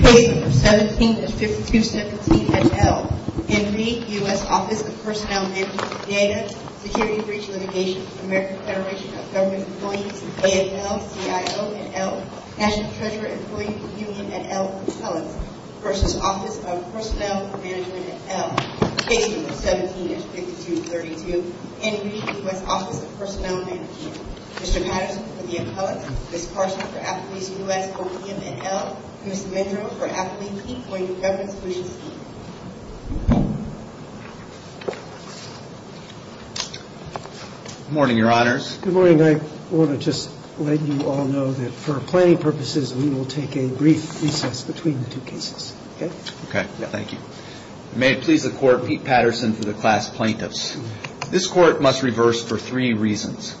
Page 17 of 6273 N.L. Henry, U.S. Office of Personnel Mgmt. Data, Security, Breach, and Litigation. American Federation of Government Employees. A.N.L. C.I.O. N.L. National Treasurer Employees Union. N.L. Personnel. Personnel Mgmt. N.L. Page 17 of 6232. Henry, U.S. Office of Personnel Mgmt. Mr. Patterson for the intelligence. Ms. Parsons for affidavit U.S. Corp. N.L. Ms. Monroe for affidavit C. O.U. Reverend Susan P. Good morning, your honors. Good morning. I want to just let you all know that for planning purposes, we will take a brief recess between the two cases. Okay? Okay. Thank you. May it please the court, Pete Patterson to the class plaintiffs. This court must reverse for three reasons.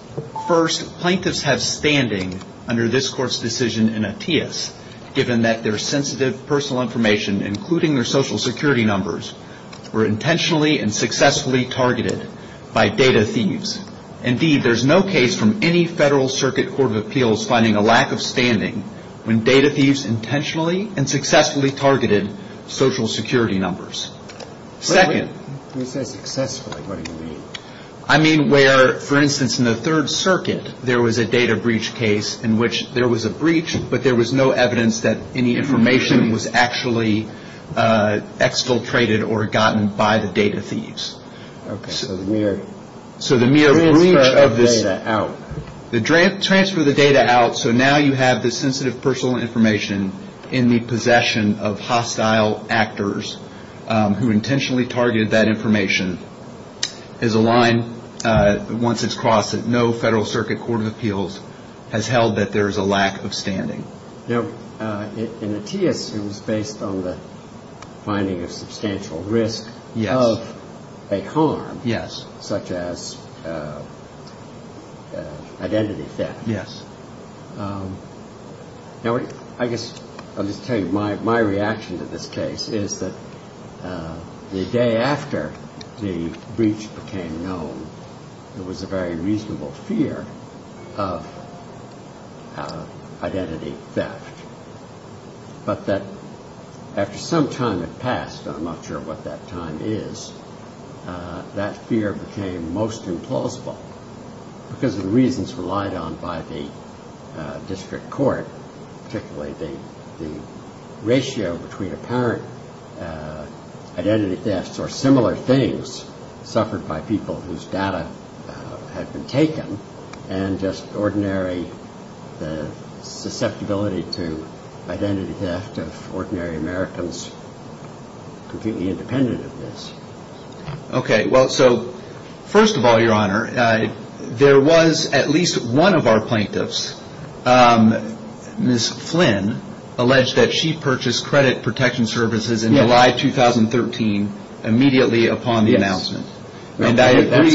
First, plaintiffs have standing under this court's decision in a P.S. given that their sensitive personal information, including their social security numbers, were intentionally and successfully targeted by data thieves. Indeed, there is no case from any Federal Circuit Court of Appeals finding a lack of standing when data thieves intentionally and successfully targeted social security numbers. Second, I mean where, for instance, in the Third Circuit, there was a data breach case in which there was a breach, but there was no evidence that any information was actually exfiltrated or gotten by the data thieves. Okay. So the mere breach of this- The transfer of data out. The transfer of the data out, so now you have the sensitive personal information in the possession of hostile actors who intentionally targeted that information is a line once it's crossed that no Federal Circuit Court of Appeals has held that there is a lack of standing. Now, in the P.S. it was based on the finding of substantial risk of a harm- Yes. Such as identity theft. Yes. Now, I guess, let me tell you, my reaction to this case is that the day after the breach became known, there was a very reasonable fear of identity theft. But that after some time had passed, I'm not sure what that time is, that fear became most implausible because of the reasons relied on by the district court, particularly the ratio between apparent identity theft or similar things suffered by people whose data had been taken and just ordinary susceptibility to identity theft of ordinary Americans completely independent of this. Okay. Well, so, first of all, Your Honor, there was at least one of our plaintiffs, Ms. Flynn, alleged that she purchased credit protection services in July 2013 immediately upon the announcement. And I agree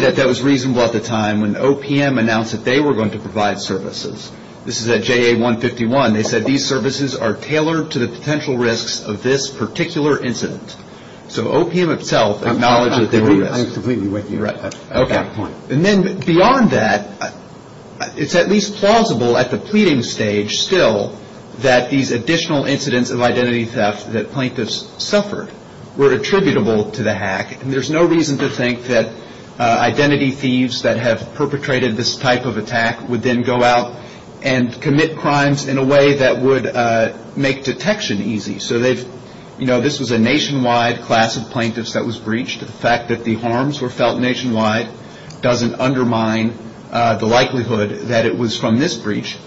that that was reasonable at the time when OPM announced that they were going to provide services. This is at JA 151. They said these services are tailored to the potential risks of this particular incident. So, OPM itself acknowledged that they were doing this. I completely agree with you at that point. Okay. And then beyond that, it's at least plausible at the pleading stage still that these additional incidents of identity theft that plaintiffs suffered were attributable to the hack. And there's no reason to think that identity thieves that have perpetrated this type of attack would then go out and commit crimes in a way that would make detection easy. So, they've, you know, this was a nationwide class of plaintiffs that was breached. The fact that the harms were felt nationwide doesn't undermine the likelihood that it was from this breach.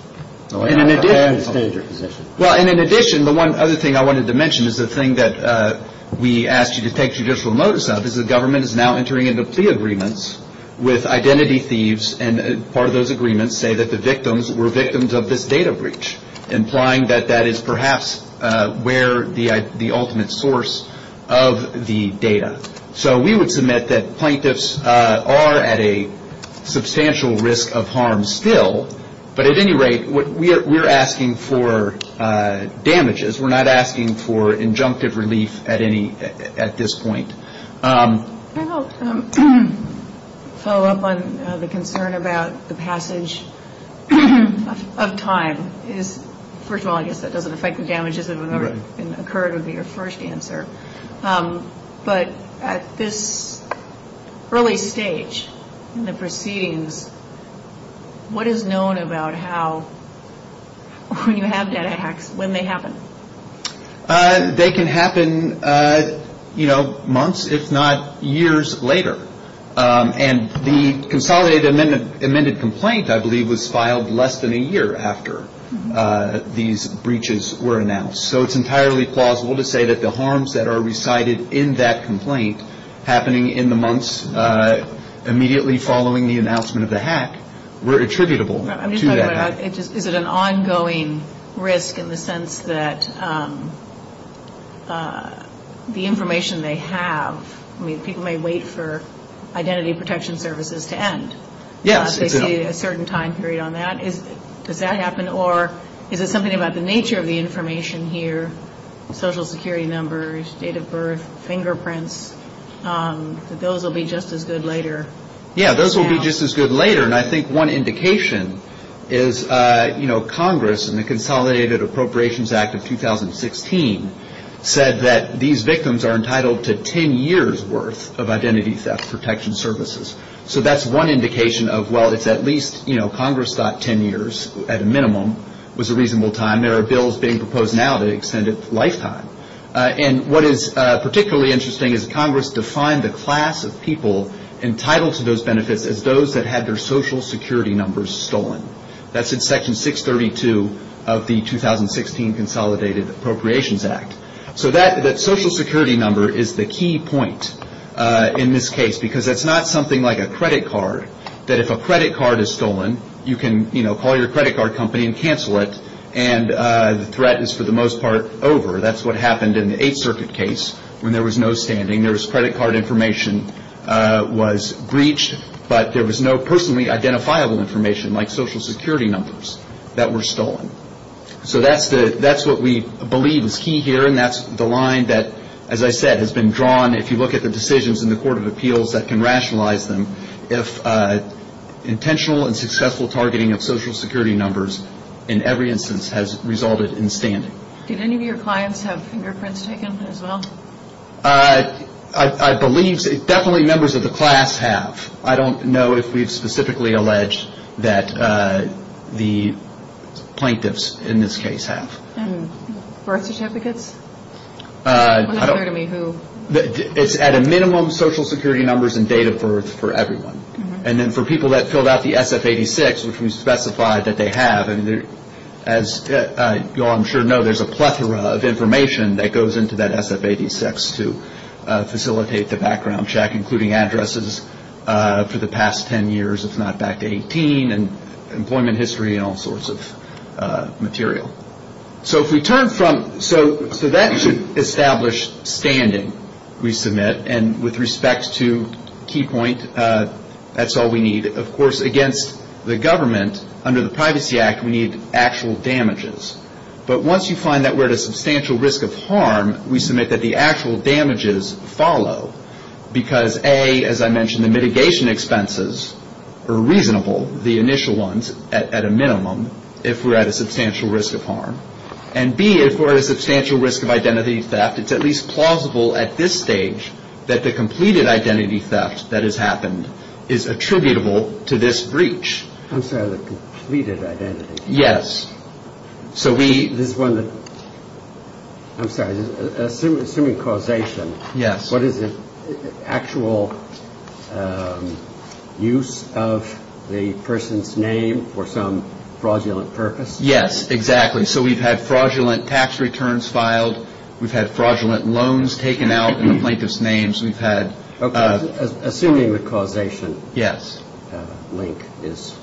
So, I understand your position. Well, and in addition, the one other thing I wanted to mention is the thing that we asked you to take judicial notice of is the government is now entering into plea agreements with identity thieves. And part of those agreements say that the victims were victims of this data breach, implying that that is perhaps where the ultimate source of the data. So, we would submit that plaintiffs are at a substantial risk of harm still. But at any rate, we're asking for damages. We're not asking for injunctive relief at this point. Can I help follow up on the concern about the passage of time? First of all, I guess that doesn't affect the damages that occurred in your first answer. But at this early stage in the proceedings, what is known about how you have that act, when they happen? They can happen, you know, months if not years later. And the consolidated amended complaint, I believe, was filed less than a year after these breaches were announced. So, it's entirely plausible to say that the harms that are recited in that complaint happening in the months immediately following the announcement of the hack were attributable to that hack. Is it an ongoing risk in the sense that the information they have, I mean, people may wait for identity protection services to end. Yes. They see a certain time period on that. Does that happen, or is it something about the nature of the information here, social security numbers, date of birth, fingerprints, that those will be just as good later? Yes, those will be just as good later. And I think one indication is, you know, Congress, in the Consolidated Appropriations Act of 2016, said that these victims are entitled to 10 years' worth of identity theft protection services. So, that's one indication of, well, it's at least, you know, Congress thought 10 years at a minimum was a reasonable time. There are bills being proposed now that extend a lifetime. And what is particularly interesting is Congress defined the class of people entitled to those benefits as those that had their social security numbers stolen. That's in Section 632 of the 2016 Consolidated Appropriations Act. So, that social security number is the key point in this case, because that's not something like a credit card, that if a credit card is stolen, you can, you know, call your credit card company and cancel it, and the threat is for the most part over. That's what happened in the Eighth Circuit case when there was no standing. There was credit card information was breached, but there was no personally identifiable information like social security numbers that were stolen. So, that's what we believe is key here, and that's the line that, as I said, has been drawn. If you look at the decisions in the Court of Appeals that can rationalize them, if intentional and successful targeting of social security numbers in every instance has resulted in standing. Did any of your clients have fingerprints taken as well? I believe definitely members of the class have. I don't know if we've specifically alleged that the plaintiffs in this case have. Birth certificates? I don't know. It's at a minimum social security numbers and data for everyone. And then for people that filled out the SF-86, which we specified that they have, and as you all I'm sure know, there's a plethora of information that goes into that SF-86 to facilitate the background check, including addresses for the past 10 years, if not back to 18, and employment history and all sorts of material. So, that should establish standing, we submit, and with respect to key point, that's all we need. Of course, against the government, under the Privacy Act, we need actual damages. But once you find that we're at a substantial risk of harm, we submit that the actual damages follow, because A, as I mentioned, the mitigation expenses are reasonable, the initial ones at a minimum, if we're at a substantial risk of harm. And B, if we're at a substantial risk of identity theft, it's at least plausible at this stage that the completed identity theft that has happened is attributable to this breach. I'm sorry, the completed identity theft? Yes. So, we, there's one that, I'm sorry, assuming causation. Yes. Actual use of the person's name for some fraudulent purpose? Yes, exactly. So, we've had fraudulent tax returns filed. We've had fraudulent loans taken out in the plaintiff's name. We've had- Okay. Assuming the causation. Yes. That link is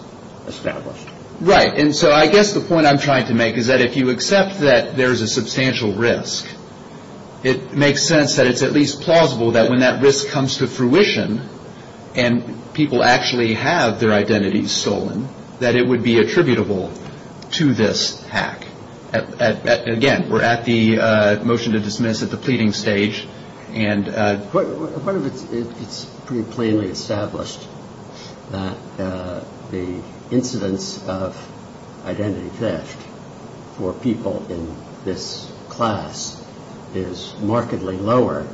established. Right. And so, I guess the point I'm trying to make is that if you accept that there's a substantial risk, it makes sense that it's at least plausible that when that risk comes to fruition and people actually have their identities stolen, that it would be attributable to this act. Again, we're at the motion to dismiss at the pleading stage and- is markedly lower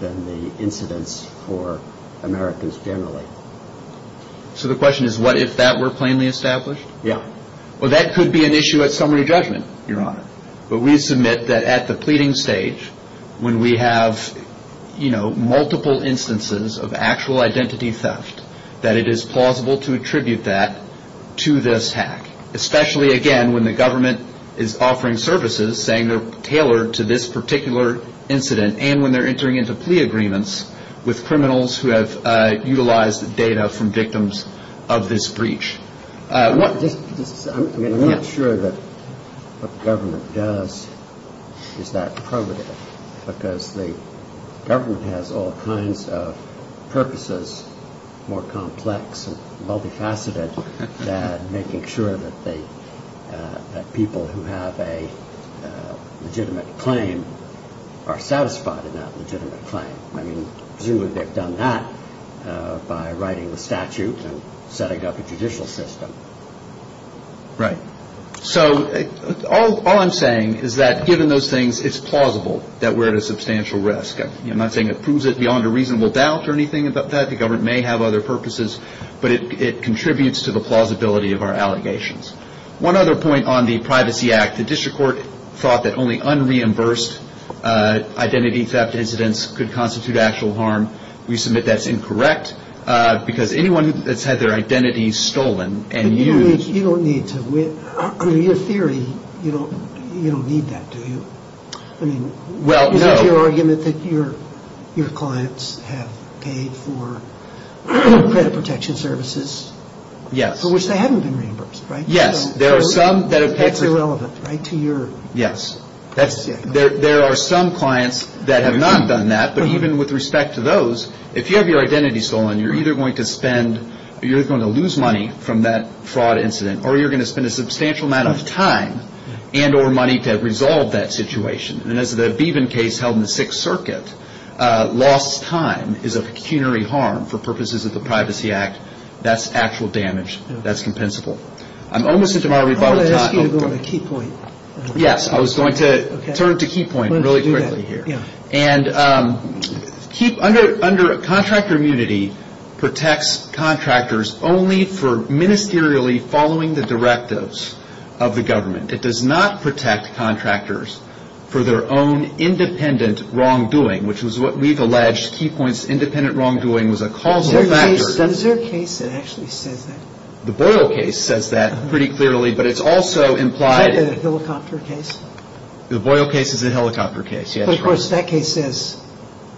than the incidence for Americans generally. So, the question is what if that were plainly established? Yes. Well, that could be an issue at summary judgment. You're right. But we submit that at the pleading stage, when we have, you know, multiple instances of actual identity theft, that it is plausible to attribute that to this act. Especially, again, when the government is offering services saying they're tailored to this particular incident and when they're entering into plea agreements with criminals who have utilized the data from victims of this breach. I'm not sure that what the government does is that appropriate because the government has all kinds of purposes, more complex and multifaceted, than making sure that people who have a legitimate claim are satisfied with that legitimate claim. I mean, usually they've done that by writing the statute and setting up a judicial system. Right. So, all I'm saying is that given those things, it's plausible that we're at a substantial risk. I'm not saying it proves it beyond a reasonable doubt or anything like that. The government may have other purposes, but it contributes to the plausibility of our allegations. One other point on the Privacy Act. The district court thought that only unreimbursed identity theft incidents could constitute actual harm. We submit that's incorrect because anyone that's had their identity stolen and used... You don't need to. In your theory, you don't need that, do you? I mean, that's your argument that your clients have paid for credit protection services... Yes. ...for which they haven't been reimbursed, right? Yes. That's irrelevant, right, to your... Yes. There are some clients that have not done that, but even with respect to those, if you have your identity stolen, you're either going to lose money from that fraud incident or you're going to spend a substantial amount of time and or money to resolve that situation. And as the Beaven case held in the Sixth Circuit, lost time is a pecuniary harm for purposes of the Privacy Act. That's actual damage. That's compensable. I'm almost at my rebuttal time. I was going to ask you to go to a key point. Yes. I was going to turn to a key point really quickly here. And contractor immunity protects contractors only for ministerially following the directives of the government. It does not protect contractors for their own independent wrongdoing, which is what we've alleged key points independent wrongdoing was a causal factor. Is there a case that actually says that? The Boyle case says that pretty clearly, but it's also implied... Is that a helicopter case? The Boyle case is a helicopter case, yes. But, of course, that case says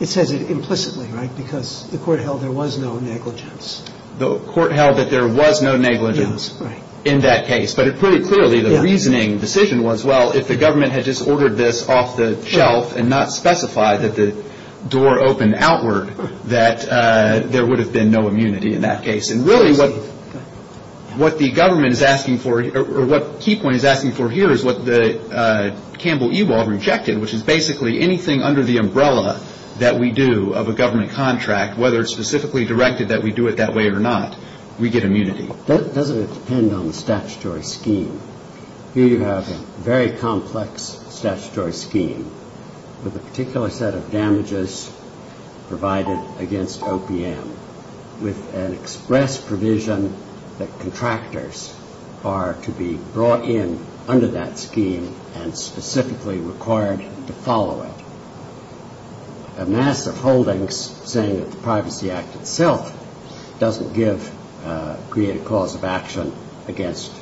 it implicitly, right? Because the court held there was no negligence. The court held that there was no negligence in that case, but it pretty clearly the reasoning decision was, well, if the government had just ordered this off the shelf and not specified that the door opened outward, that there would have been no immunity in that case. And really what the government is asking for, or what the key point is asking for here, is what Campbell-Ewald rejected, which is basically anything under the umbrella that we do of a government contract, whether it's specifically directed that we do it that way or not, we get immunity. That doesn't depend on the statutory scheme. Here you have a very complex statutory scheme with a particular set of damages provided against OPM with an express provision that contractors are to be brought in under that scheme and specifically required to follow it. A massive holding saying it's a privacy act itself doesn't create a cause of action against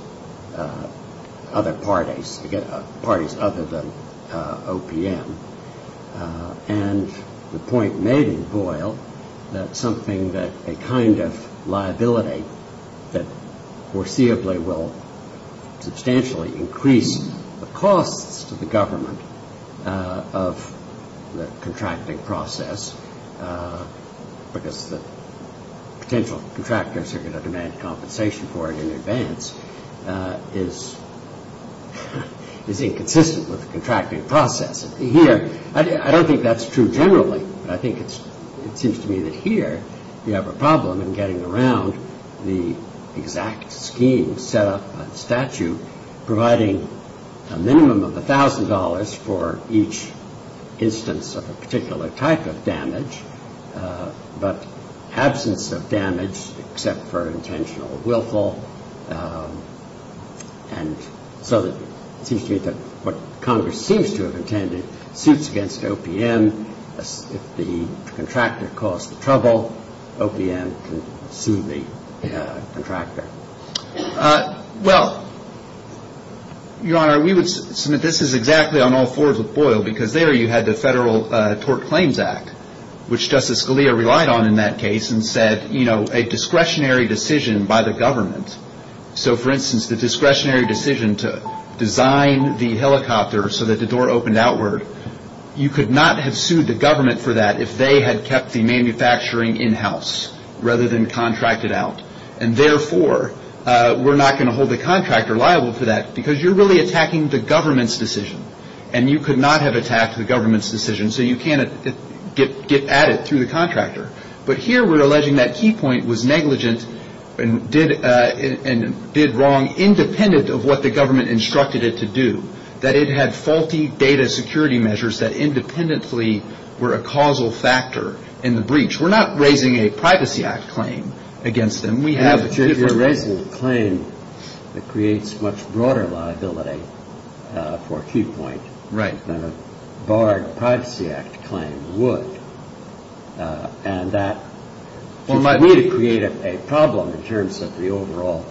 other parties, against parties other than OPM. And the point made in Boyle that something that a kind of liability that foreseeably will substantially increase the costs to the government of the contracting process because the potential contractors are going to demand compensation for it in advance is inconsistent with the contracting process. Here, I don't think that's true generally, but I think it seems to me that here we have a problem in getting around the exact scheme set up by the statute providing a minimum of $1,000 for each instance of a particular type of damage, but absence of damage except for intentional willful. And so it seems to me that what Congress seems to have intended suits against OPM. If the contractor causes trouble, OPM can sue the contractor. Well, you know, I would submit this is exactly on all fours with Boyle because there you had the Federal Tort Claims Act, which Justice Scalia relied on in that case and said, you know, a discretionary decision by the government. So, for instance, the discretionary decision to design the helicopter so that the door opened outward, you could not have sued the government for that if they had kept the manufacturing in-house rather than contract it out. And therefore, we're not going to hold the contractor liable for that because you're really attacking the government's decision and you could not have attacked the government's decision so you can't get at it through the contractor. But here we're alleging that Key Point was negligent and did wrong independent of what the government instructed it to do, that it had faulty data security measures that independently were a causal factor in the breach. We're not raising a Privacy Act claim against them. If you're raising a claim, it creates much broader liability for Key Point than a barred Privacy Act claim would. And that would really create a problem in terms of the overall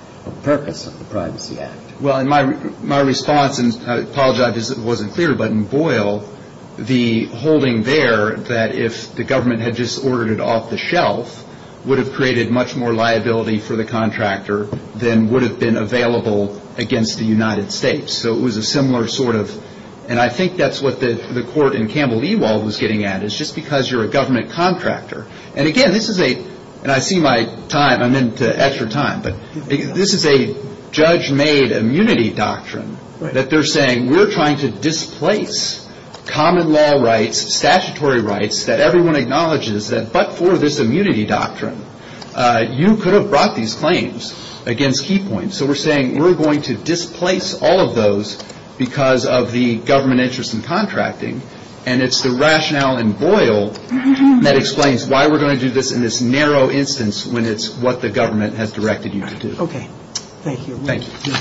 purpose of the Privacy Act. Well, in my response, and I apologize if this wasn't clear, but in Boyle, the holding there that if the government had just ordered it off the shelf would have created much more liability for the contractor than would have been available against the United States. So it was a similar sort of, and I think that's what the court in Campbell-Ewald was getting at, is just because you're a government contractor. And again, this is a, and I see my time, I'm into extra time, but this is a judge-made immunity doctrine that they're saying we're trying to displace common law rights, statutory rights that everyone acknowledges that, but for this immunity doctrine, you could have brought these claims against Key Point. So we're saying we're going to displace all of those because of the government interest in contracting. And it's the rationale in Boyle that explains why we're going to do this in this narrow instance when it's what the government has directed you to do. Okay. Thank you. Good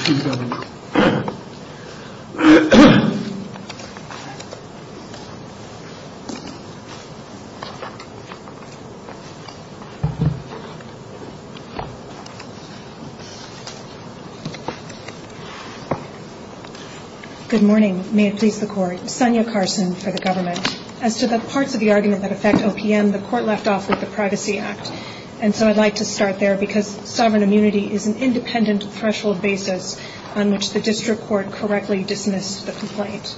morning. May it speak to the court. Sonia Carson for the government. As to the parts of the argument that affect OPM, the court left off with the Privacy Act. And so I'd like to start there because sovereign immunity is an independent threshold basis on which the district court correctly dismisses the complaint.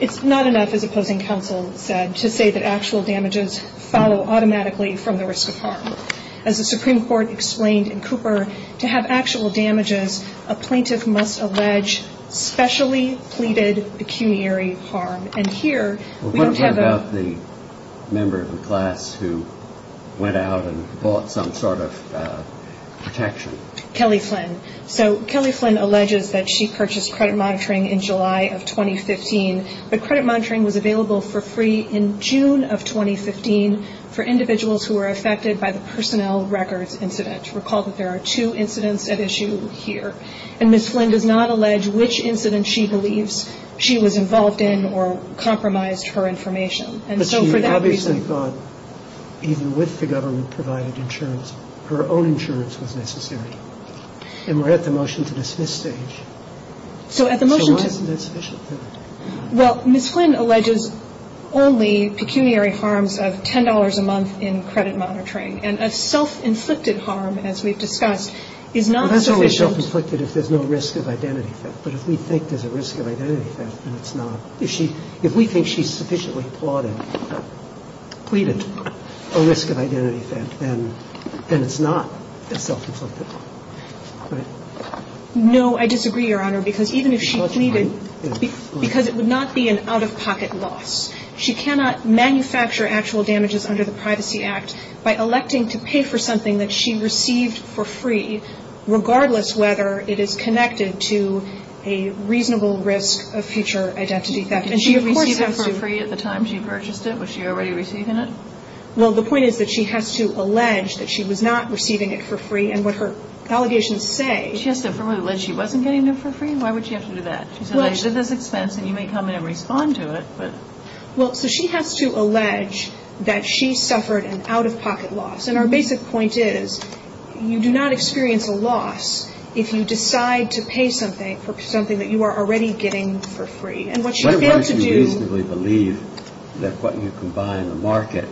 It's not enough for the closing counsel, Deb, to say that actual damages follow automatically from the risk of harm. As the Supreme Court explained in Cooper, to have actual damages, a plaintiff must allege specially pleaded pecuniary harm. What about the member of the class who went out and bought some sort of protection? Kelly Flynn. So Kelly Flynn alleges that she purchased credit monitoring in July of 2015. The credit monitoring was available for free in June of 2015 for individuals who were affected by the personnel records incident. Recall that there are two incidents at issue here. And Ms. Flynn does not allege which incident she believes she was involved in or compromised her information. But she obviously thought, even with the government-provided insurance, her own insurance was necessary. And we're at the motion to dismiss stage. So at the motion to... Well, Ms. Flynn alleges only pecuniary harms of $10 a month in credit monitoring. And a self-inflicted harm, as we've discussed, is not sufficient... If there's no risk of identity theft, but if we think there's a risk of identity theft, then it's not. If we think she's sufficiently pleaded a risk of identity theft, then it's not self-inflicted. No, I disagree, Your Honor, because even if she pleaded... Because it would not be an out-of-pocket loss. She cannot manufacture actual damages under the Privacy Act by electing to pay for something that she received for free, regardless whether it is connected to a reasonable risk of future identity theft. Did she receive that for free at the time she purchased it? Was she already receiving it? Well, the point is that she has to allege that she was not receiving it for free, and what her allegations say... She has to probably allege she wasn't getting it for free? Why would she have to do that? It's alleged at this expense, and you may come in and respond to it, but... Well, so she has to allege that she suffered an out-of-pocket loss. And our basic point is, you do not experience a loss if you decide to pay for something that you are already getting for free. In other words, you basically believe that what you can buy in the market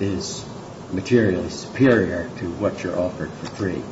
is materially superior to what you're offered for free.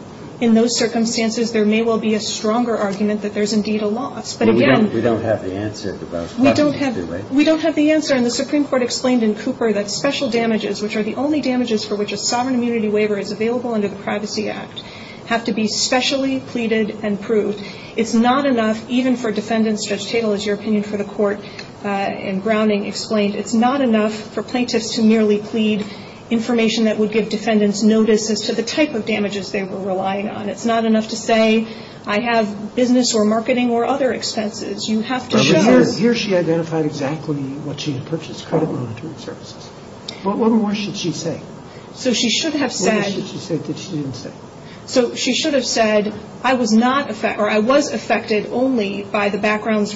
In those circumstances, there may well be a stronger argument that there's indeed a loss. But again... We don't have the answer to both questions, do we? We don't have the answer, and the Supreme Court explained in Cooper that special damages, which are the only damages for which a sovereign immunity waiver is available under the Privacy Act, have to be specially pleaded and proved. It's not enough, even for defendants. Judge Tatel, as your opinion for the court in Browning explained, it's not enough for plaintiffs to merely plead information that would give defendants notice as to the type of damages they were relying on. It's not enough to say, I have business or marketing or other expenses. You have to show... Here she identified exactly what she had purchased, credit monitoring services. But what more should she say? So she should have said... What more should she say? So she should have said, I was affected only by the background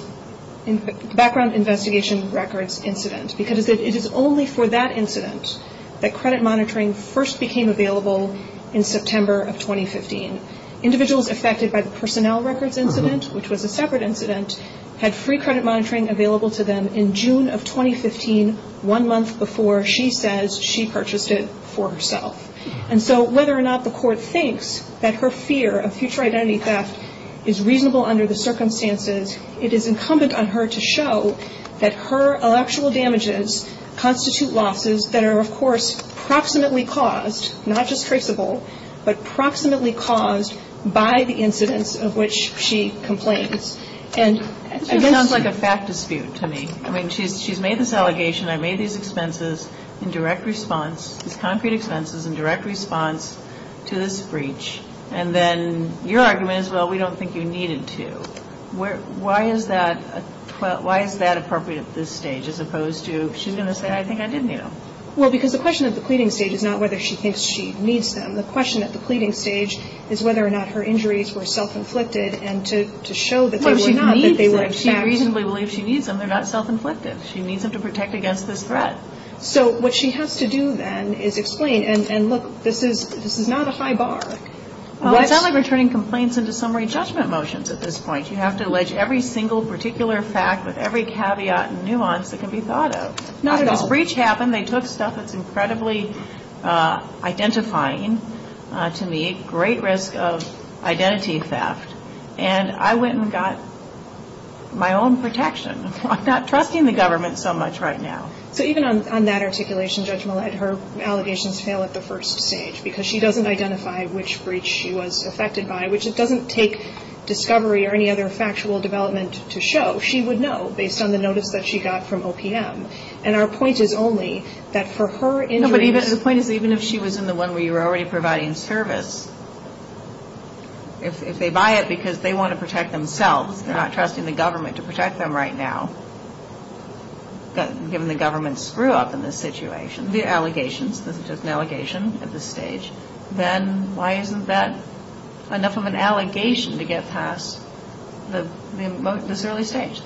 investigation records incident, because it is only for that incident that credit monitoring first became available in September of 2015. Individuals affected by the personnel records incident, which was a separate incident, had free credit monitoring available to them in June of 2015, one month before she says she purchased it for herself. And so whether or not the court thinks that her fear of future identity theft is reasonable under the circumstances, it is incumbent on her to show that her actual damages constitute losses that are, of course, proximately caused, not just priceable, but proximately caused by the incidents of which she complained. It sounds like a fact dispute to me. I mean, she's made this allegation. I made these expenses in direct response, concrete expenses in direct response to this breach. And then your argument is, well, we don't think you needed to. Why is that appropriate at this stage as opposed to, she's going to say, I think I did need them? Well, because the question at the pleading stage is not whether she thinks she needs them. The question at the pleading stage is whether or not her injuries were self-inflicted and to show that they were not. No, she reasonably believes she needs them. They're not self-inflicted. She needs them to protect against this threat. So what she has to do then is explain, and look, this is not a high bar. It's not like returning complaints into summary judgment motions at this point. You have to allege every single particular fact with every caveat and nuance that can be thought of. It's not at all. When the breach happened, they took stuff that's incredibly identifying to me, great risk of identity theft. And I went and got my own protection. I'm not trusting the government so much right now. So even on that articulation judgment, her allegations fail at the first stage because she doesn't identify which breach she was affected by, which just doesn't take discovery or any other factual development to show. She would know based on the notice that she got from OPM. And our point is only that for her injury... No, but the point is even if she was in the one where you were already providing service, if they buy it because they want to protect themselves, not trusting the government to protect them right now, but given the government's screw-up in this situation, the allegations, this is just an allegation at this stage, then why isn't that enough of an allegation to get past this early stage?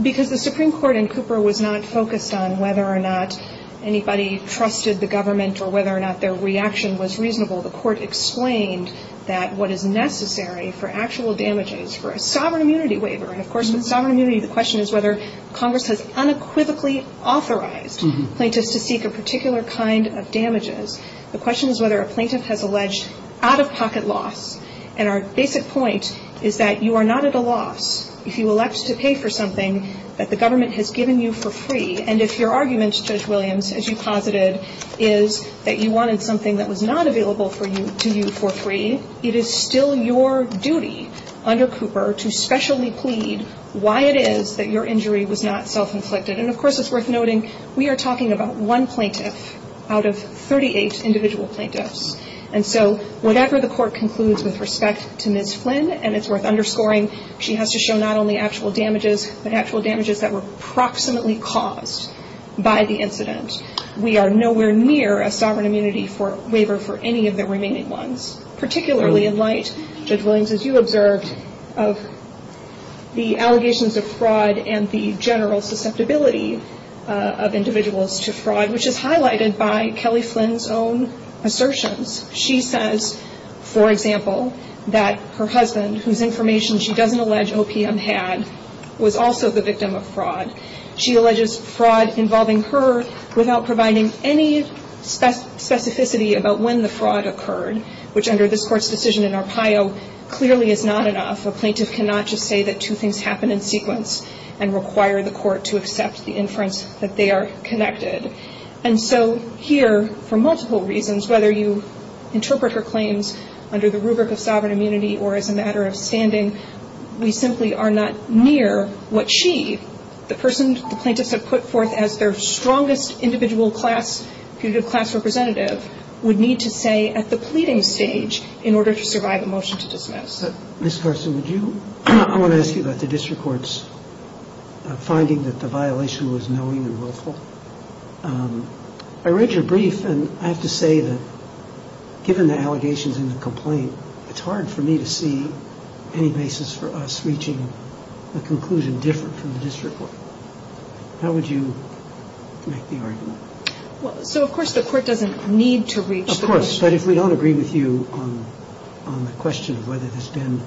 Because the Supreme Court in Cooper was not focused on whether or not anybody trusted the government or whether or not their reaction was reasonable. The court explained that what is necessary for actual damages for a sovereign immunity waiver, and of course in sovereign immunity the question is whether Congress has unequivocally authorized plaintiffs to seek a particular kind of damages. The question is whether a plaintiff has alleged out-of-pocket loss. And our basic point is that you are not at a loss if you elect to pay for something that the government has given you for free. And if your argument, Judge Williams, as you posited, is that you wanted something that was not available to you for free, it is still your duty under Cooper to specially plead why it is that your injury was not self-inflicted. And of course it's worth noting we are talking about one plaintiff out of 38 individual plaintiffs. And so whatever the court concludes with respect to Ms. Flynn, and it's worth underscoring she has to show not only actual damages, but actual damages that were proximately caused by the incident. We are nowhere near a sovereign immunity waiver for any of the remaining ones, particularly in light, Judge Williams, as you observed, of the allegations of fraud and the general susceptibility of individuals to fraud, which is highlighted by Kelly Flynn's own assertions. She says, for example, that her husband, whose information she doesn't allege OPM had, was also the victim of fraud. She alleges fraud involving her without providing any specificity about when the fraud occurred, which under this court's decision in Arpaio clearly is not enough. A plaintiff cannot just say that two things happened in sequence and require the court to accept the inference that they are connected. And so here, for multiple reasons, whether you interpret her claims under the rubric of sovereign immunity or as a matter of standing, we simply are not near what she, the person the plaintiffs have put forth as their strongest individual class representative, would need to say at the pleading stage in order to survive a motion to dismiss. But, Ms. Carson, I want to ask you about the district court's finding that the violation was knowing and willful. I read your brief, and I have to say that given the allegations in the complaint, it's hard for me to see any basis for us reaching a conclusion different from the district court. How would you make the argument? So, of course, the court doesn't need to reach the conclusion. But if we don't agree with you on the question of whether there's been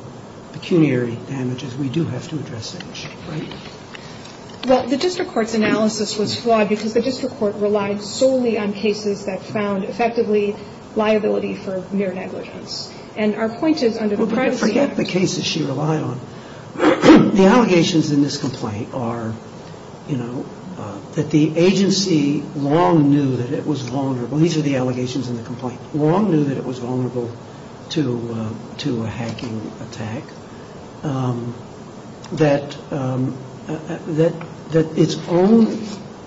pecuniary damages, we do have to address that issue, right? Well, the district court's analysis was flawed because the district court relies solely on cases that found effectively liability for mere negligence and are pointed under the privacy act. Well, forget the cases she relied on. The allegations in this complaint are, you know, that the agency long knew that it was vulnerable. Well, these are the allegations in the complaint. Long knew that it was vulnerable to a hacking attack, that its own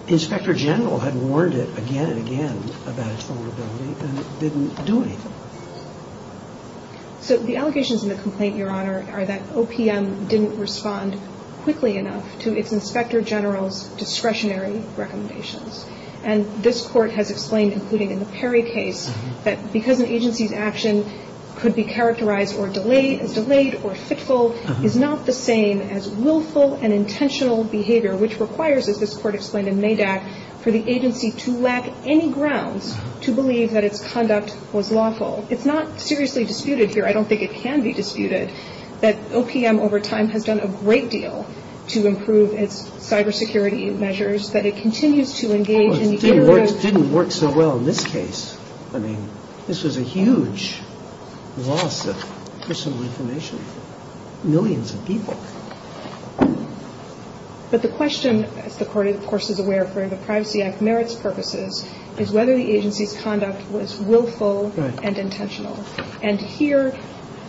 inspector general had warned it again and again about its vulnerability and it didn't do anything. So the allegations in the complaint, Your Honor, are that OPM didn't respond quickly enough to its inspector general's discretionary recommendations. And this court has explained, including in the Perry case, that because an agency's actions could be characterized as delayed or fickle is not the same as willful and intentional behavior, which requires, as this court explained in Maybach, for the agency to lack any grounds to believe that its conduct was lawful. It's not seriously disputed here. I don't think it can be disputed that OPM, over time, has done a great deal to improve its cybersecurity measures, but it continues to engage in the areas... Well, security rights didn't work so well in this case. I mean, this is a huge loss of personal information. Millions of people. But the question, the court, of course, is aware of, for the Privacy Act merits purposes, is whether the agency's conduct was willful and intentional. And here,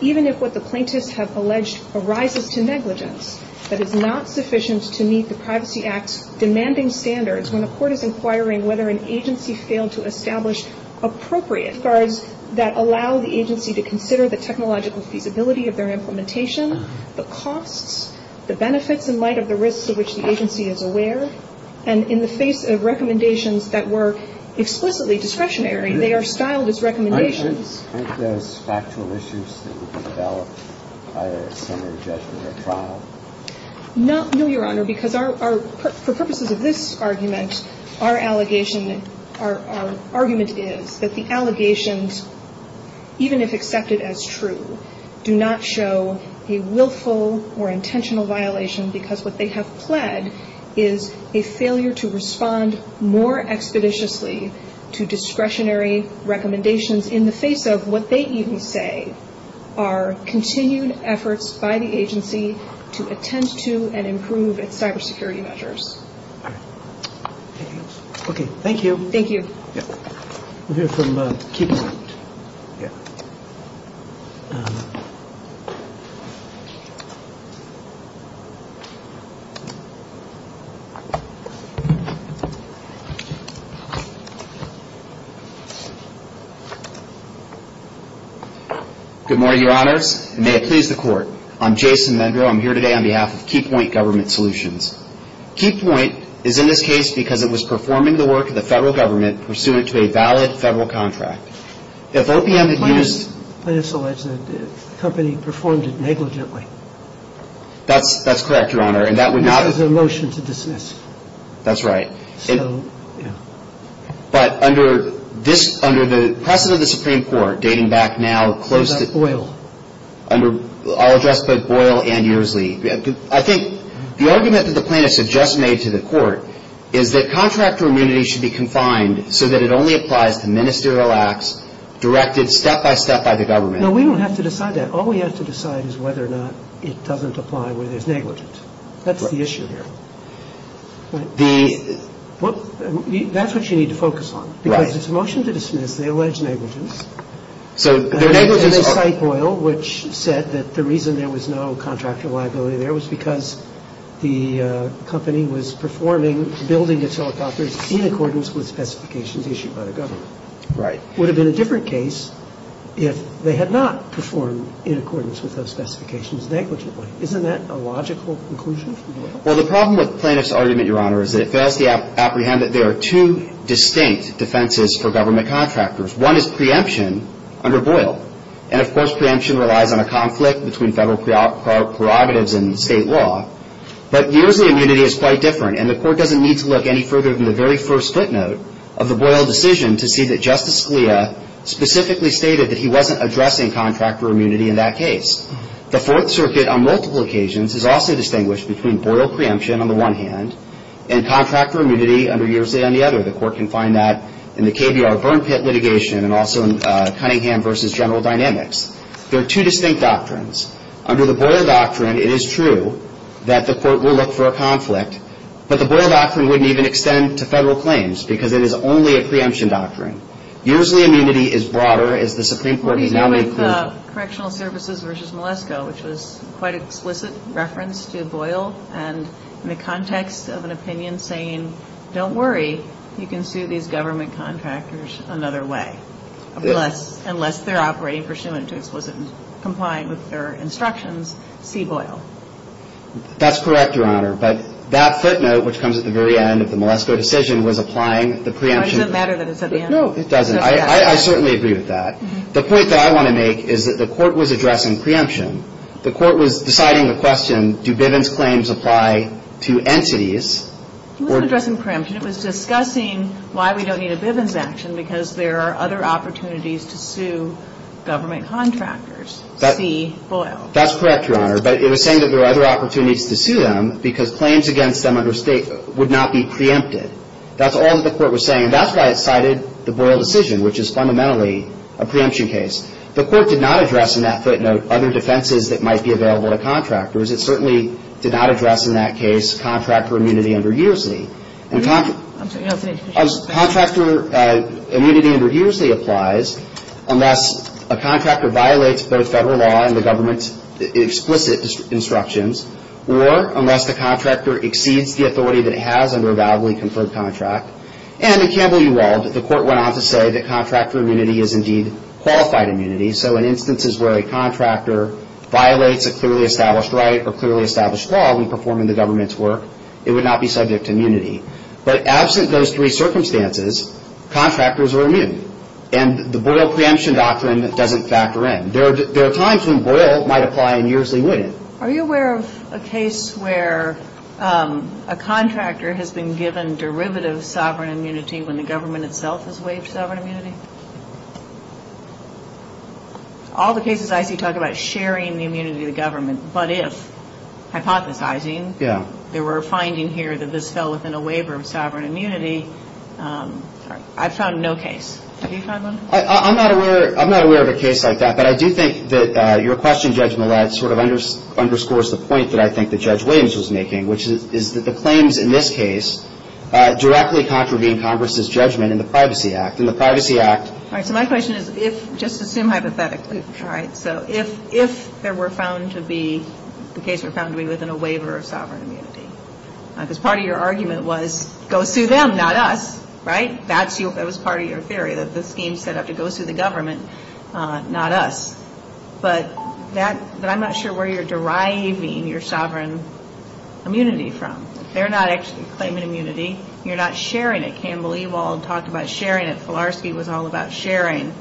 even if what the plaintiffs have alleged arises to negligence, that is not sufficient to meet the Privacy Act's demanding standards when the court is inquiring whether an agency failed to establish appropriate standards that allow the agency to consider the technological feasibility of their implementation, the costs, the benefits in light of the risks to which the agency is aware. And in the face of recommendations that were explicitly discretionary, they are styled as recommendations. Is this factual issues that were developed by a senior judge in the trial? No, Your Honor, because for purposes of this argument, our argument is that the allegations, even if accepted as true, do not show a willful or intentional violation because what they have pled is a failure to respond more expeditiously to discretionary recommendations in the face of what they even say are continued efforts by the agency to attend to and improve its cybersecurity measures. Okay, thank you. Thank you. We'll hear from Keith in a moment. Good morning, Your Honors, and may it please the Court. I'm Jason Mendrow. I'm here today on behalf of Keypoint Government Solutions. Keypoint is in this case because it was performing the work of the federal government pursuant to a valid federal contract. If OPM is used... But it's alleged that the company performed it negligently. That's correct, Your Honor, and that would not... It was a motion to dismiss. That's right. But under the precedent of the Supreme Court dating back now close to... Was that Boyle? I'll address both Boyle and Ursley. I think the argument that the plaintiffs have just made to the Court is that contractor immunity should be confined so that it only applies to ministerial acts directed step-by-step by the government. No, we don't have to decide that. All we have to decide is whether or not it doesn't apply where there's negligence. That's the issue here. The... Well, that's what you need to focus on. Right. Because it's a motion to dismiss. They allege negligence. So the negligence... The negligence cite Boyle, which said that the reason there was no contractor liability there was because the company was performing, building its helicopters in accordance with specifications issued by the government. Right. It would have been a different case if they had not performed in accordance with those specifications negligently. Isn't that a logical conclusion? Well, the problem with the plaintiff's argument, Your Honor, is that it fails to apprehend that there are two distinct defenses for government contractors. One is preemption under Boyle. And, of course, preemption relies on a conflict between federal prerogatives and state law. But Ursley immunity is quite different, and the Court doesn't need to look any further than the very first footnote of the Boyle decision to see that Justice Scalia specifically stated that he wasn't addressing contractor immunity in that case. The Fourth Circuit, on multiple occasions, has also distinguished between Boyle preemption on the one hand and contractor immunity under Ursley on the other. The Court can find that in the KBR burn pit litigation and also in Cunningham v. General Dynamics. There are two distinct doctrines. Under the Boyle doctrine, it is true that the Court will look for a conflict, but the Boyle doctrine wouldn't even extend to federal claims because it is only a preemption doctrine. Ursley immunity is broader. What he did with Correctional Services v. Malesko, which was quite explicit reference to Boyle, and in the context of an opinion saying, don't worry, you can sue these government contractors another way, unless they're operating pursuant to explicit compliance with their instructions, see Boyle. That's correct, Your Honor. But that footnote, which comes at the very end of the Malesko decision, was applying the preemption. It doesn't matter that it's at the end. No, it doesn't. I certainly agree with that. The point that I want to make is that the Court was addressing preemption. The Court was deciding the question, do Bivens claims apply to entities? It wasn't addressing preemption. It was discussing why we don't need a Bivens action because there are other opportunities to sue government contractors, see Boyle. That's correct, Your Honor. But it was saying that there are other opportunities to sue them because claims against them under state would not be preempted. That's all that the Court was saying. That's why it cited the Boyle decision, which is fundamentally a preemption case. The Court did not address in that footnote other defenses that might be available to contractors. It certainly did not address, in that case, contractor immunity under U.S.C. I'm sorry. No, go ahead. Contractor immunity under U.S.C. applies unless a contractor violates both federal law and the government's explicit instructions, or unless the contractor exceeds the authority that it has under a validly conferred contract. And it can be ruled that the Court went on to say that contractor immunity is indeed qualified immunity. So in instances where a contractor violates a clearly established right or clearly established law when performing the government's work, it would not be subject to immunity. But absent those three circumstances, contractors were immune. And the Boyle preemption doctrine doesn't factor in. There are times when Boyle might apply and years they wouldn't. Are you aware of a case where a contractor has been given derivative sovereign immunity when the government itself has waived sovereign immunity? All the cases I see talk about sharing the immunity of the government. But if, hypothesizing, there were findings here that this fell within a waiver of sovereign immunity, I've found no case. Have you found one? I'm not aware of a case like that. But I do think that your question, Judge Millett, sort of underscores the point that I think that Judge Williams was making, which is that the claims in this case directly contravene Congress's judgment in the Privacy Act. In the Privacy Act- All right, so my question is if, just assume hypothetically, all right, so if there were found to be, the case was found to be within a waiver of sovereign immunity, because part of your argument was go sue them, not us, right? That was part of your theory, that this being set up to go sue the government, not us. But I'm not sure where you're deriving your sovereign immunity from. They're not actually claiming immunity. You're not sharing it. Campbell Ewald talked about sharing it. Polarski was all about sharing.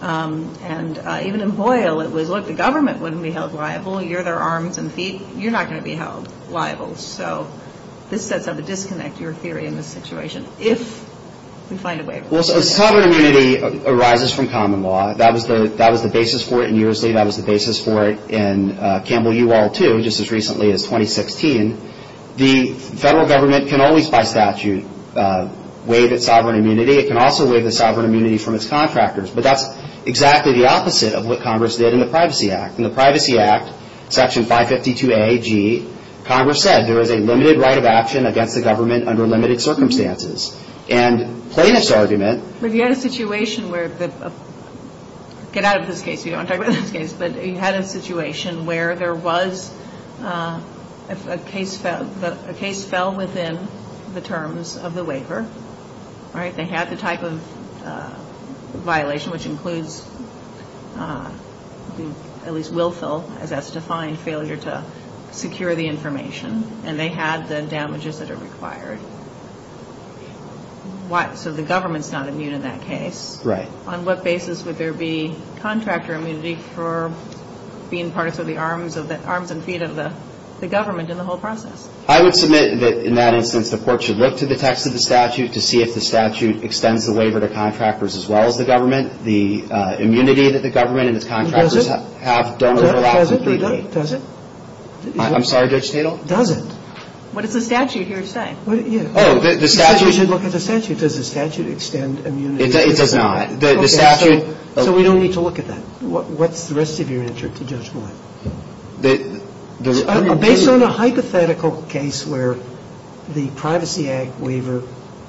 And even in Boyle, it was, look, the government wouldn't be held liable. You're their arms and feet. You're not going to be held liable. So this sets up a disconnect, your theory in this situation, if we find a waiver. Well, so sovereign immunity arises from common law. That is the basis for it in Nearsley. That is the basis for it in Campbell Ewald, too, just as recently as 2016. The federal government can always, by statute, waive its sovereign immunity. It can also waive its sovereign immunity from its contractors. But that's exactly the opposite of what Congress did in the Privacy Act. In the Privacy Act, Section 552A-G, Congress said there is a limited right of action against the government under limited circumstances. So if you had a situation where, get out of this case, we don't want to talk about this case, but if you had a situation where there was a case fell within the terms of the waiver, they had the type of violation, which includes at least willful, as that's defined, failure to secure the information, and they had the damages that are required. So the government's not immune in that case. Right. On what basis would there be contractor immunity for being part of the arms and feet of the government in the whole process? I would submit that, in that instance, the court should look to the text of the statute to see if the statute extends the waiver to contractors as well as the government. The immunity that the government and its contractors have don't overlap. Does it? I'm sorry, Judge Tatel? Does it? What does the statute here say? Oh, the statute. You should look at the statute. Does the statute extend immunity? It does not. So we don't need to look at that. What's the rest of your answer to Judge Moore? Based on a hypothetical case where the privacy ad waiver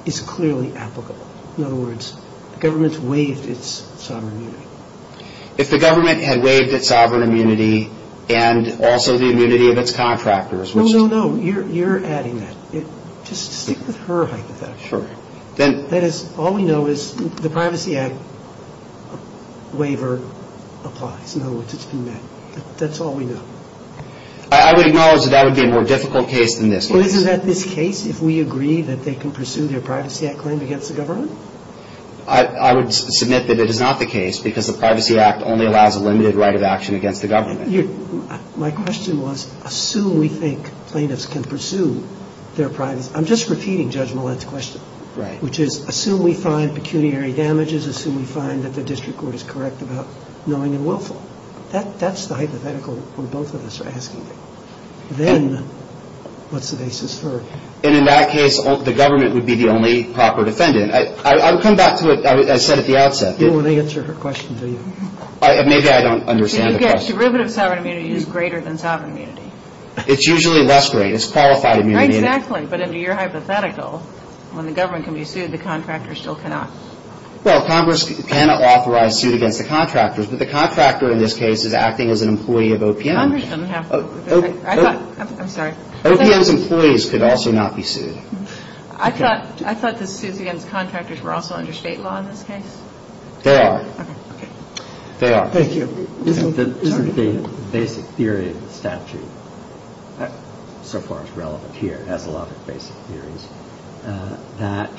is clearly applicable. In other words, the government's waived its sovereign immunity. If the government had waived its sovereign immunity and also the immunity of its contractors, No, no, no. You're adding that. Just stick with her hypothetical. Sure. That is, all we know is the privacy ad waiver applies. That's all we know. I would acknowledge that that would be a more difficult case than this one. Isn't that this case if we agree that they can pursue their privacy ad claim against the government? I would submit that it is not the case because the Privacy Act only allows a limited right of action against the government. My question was, assume we think plaintiffs can pursue their privacy. I'm just repeating Judge Moore's question, which is, assume we find pecuniary damages, assume we find that the district court is correct about knowing and willful. That's the hypothetical we both of us are asking. Then, what's the basis for it? And in that case, the government would be the only proper defendant. I would come back to what I said at the outset. You don't want to answer her question, do you? Maybe I don't understand the question. Yes, derivative sovereign immunity is greater than sovereign immunity. It's usually less great. It's qualified immunity. Exactly, but in your hypothetical, when the government can be sued, the contractor still cannot. Well, Congress can authorize suit against the contractors, but the contractor in this case is acting as an employee of OPM. Congress doesn't have to. I'm sorry. OPM's employees could also not be sued. I thought the suit against contractors were also under state law in this case. They are. They are. Thank you. The basic theory of the statute, so far as relevant here, has a lot of basic theories, that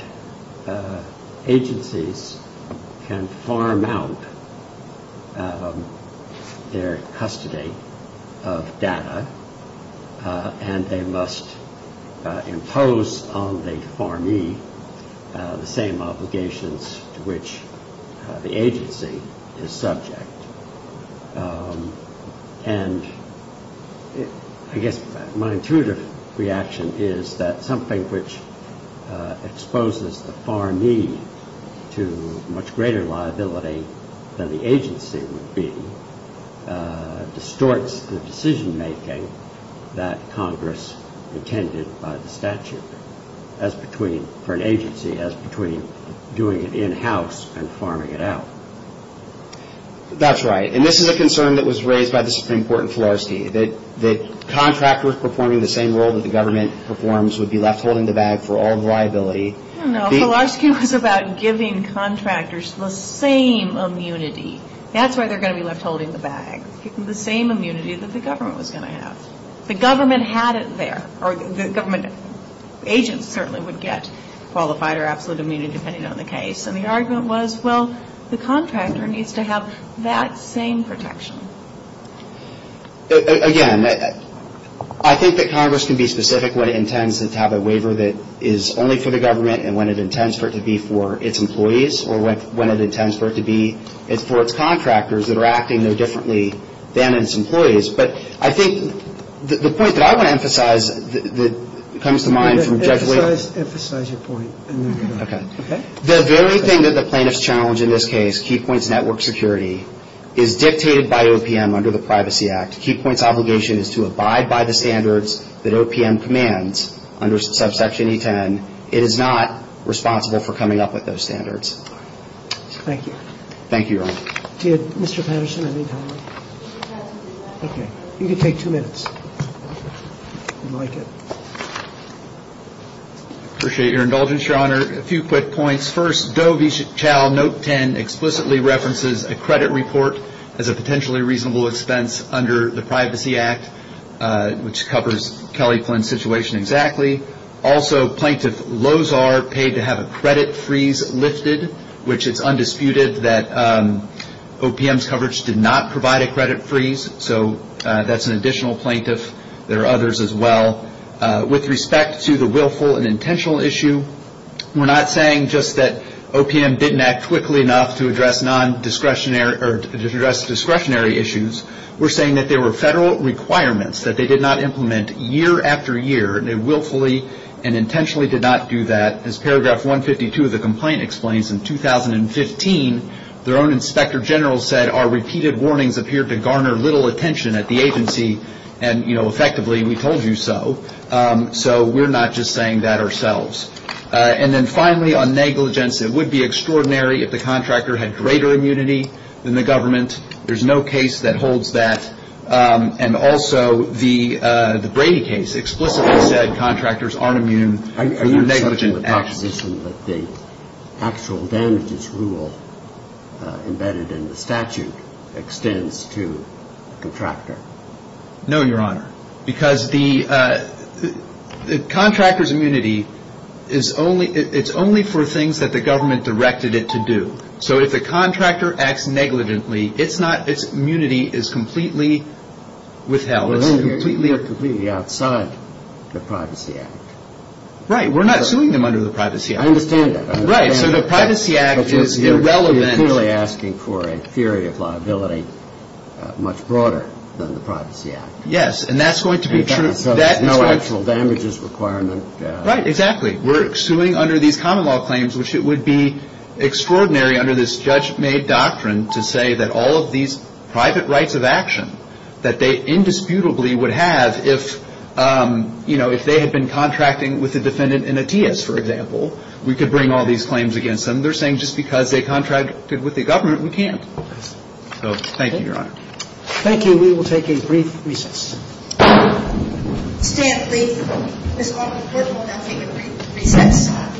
agencies can farm out their custody of data, and they must impose on the farmee the same obligations to which the agency is subject. And I guess one intuitive reaction is that something which exposes the farmee to much greater liability than the agency would be distorts the decision-making that Congress intended by the statute for an agency as between doing it in-house and farming it out. That's right. And this is a concern that was raised by the Supreme Court in Fulaski, that contractors performing the same role that the government performs would be left holding the bag for all liability. I don't know. Fulaski was about giving contractors the same immunity. That's why they're going to be left holding the bag. It's the same immunity that the government was going to have. The government had it there, or the government agents currently would get qualified or absolute immunity depending on the case. And the argument was, well, the contractor needs to have that same protection. Again, I think that Congress can be specific when it intends to have a waiver that is only for the government and when it intends for it to be for its employees, or when it intends for it to be for its contractors that are acting there differently than its employees. But I think the point that I want to emphasize that comes to mind from Jeff Lewis... Emphasize your point. Okay. The very thing that the plaintiffs challenge in this case, Key Points Network Security, is dictated by OPM under the Privacy Act. Key Points' obligation is to abide by the standards that OPM commands under subsection E10. It is not responsible for coming up with those standards. Thank you. Thank you, Your Honor. Did Mr. Patterson have any comments? No. Okay. You can take two minutes. Thank you. Appreciate your indulgence, Your Honor. A few quick points. First, Doe v. Chau, Note 10, explicitly references a credit report as a potentially reasonable expense under the Privacy Act, which covers Kelly Flynn's situation exactly. Also, Plaintiff Lozar paid to have a credit freeze listed, which is undisputed that OPM's coverage did not provide a credit freeze. So that's an additional plaintiff. There are others as well. With respect to the willful and intentional issue, we're not saying just that OPM didn't act quickly enough to address discretionary issues. We're saying that there were federal requirements that they did not implement year after year, and they willfully and intentionally did not do that. As Paragraph 152 of the complaint explains, in 2015, their own inspector general said our repeated warnings appeared to garner little attention at the agency, and, you know, effectively we told you so. So we're not just saying that ourselves. And then finally, on negligence, it would be extraordinary if the contractor had greater immunity than the government. There's no case that holds that. And also, the Brady case explicitly said contractors aren't immune. Are you suggesting that the actual damages rule embedded in the statute extends to the contractor? No, Your Honor, because the contractor's immunity is only for things that the government directed it to do. So if the contractor acts negligently, its immunity is completely withheld. Completely or completely outside the Privacy Act. Right, we're not suing them under the Privacy Act. I understand that. Right, so the Privacy Act is irrelevant. It's really asking for a theory of liability much broader than the Privacy Act. Yes, and that's going to be true. The actual damages requirement. Right, exactly. We're suing under these common law claims, which it would be extraordinary under this judge-made doctrine to say that all of these private rights of action, that they indisputably would have if they had been contracting with a defendant in a TIAS, for example. We could bring all these claims against them. They're saying just because they contracted with the government, we can't. So, thank you, Your Honor. Thank you. We will take a brief recess. Stand free. Stand free. Stand free. Stand free. Stand free.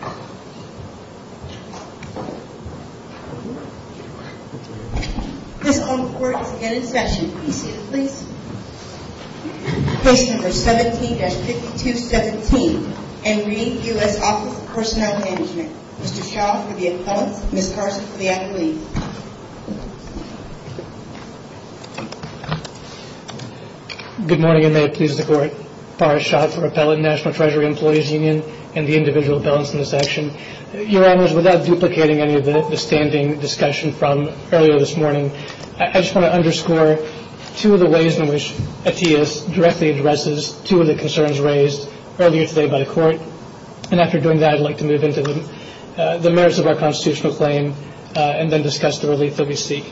Stand free. Stand free. Stand free. Thank you. Congratulations. Take number 17-6217 and leave you as officer of personnel management. Mr. Charles be at 1 and miss Garvey have the food. Good morning and may it please the court for a shot for appellate national treasury employees union and the individual balance in this action. Your honors without duplicating any of the standing discussion from earlier this morning I just want to underscore two of the ways in which ATS directly addresses two of the concerns raised earlier today by the court and after doing that I'd like to move into the merits of our constitutional claim and then discuss the relief that we seek.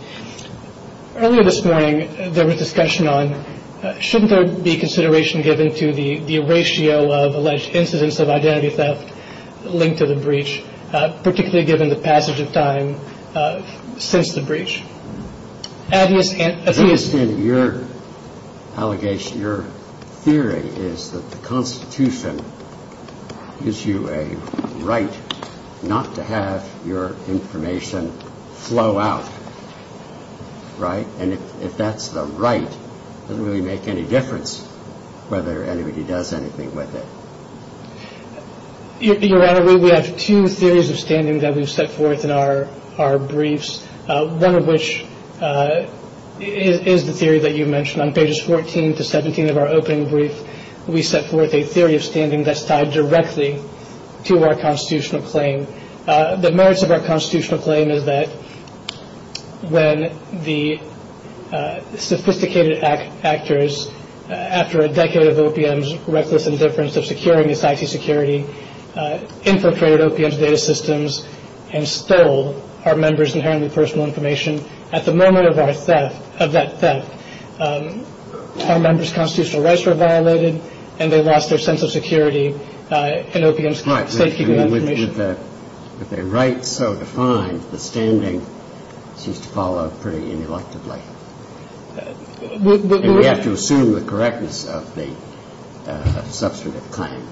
Earlier this morning there was discussion on shouldn't there be consideration given to the ratio of alleged incidents of identity theft linked to the breach particularly given the passage of time since the breach. In your allegation your theory is that the constitution gives you a right not to have your information flow out right and if that's the right it doesn't really make any difference whether anybody does anything with it. Your honor we have two theories of standing that have been set forth in our briefs one of which is the theory that you mentioned on pages 14 to 17 of our opening briefs we set forth a theory of standing that's tied directly to our constitutional claim. The merits of our constitutional claim is that when the sophisticated actors after a decade of OPM's reckless indifference of securing this IT security infiltrated OPM's data systems and stole our members' personal information at the moment of that theft our members' constitutional rights were violated and they lost their sense of security and OPM's state keeping information. But if the right so defined the standing seems to fall on pretty ineluctable. We have to assume the correctness of the substantive claim.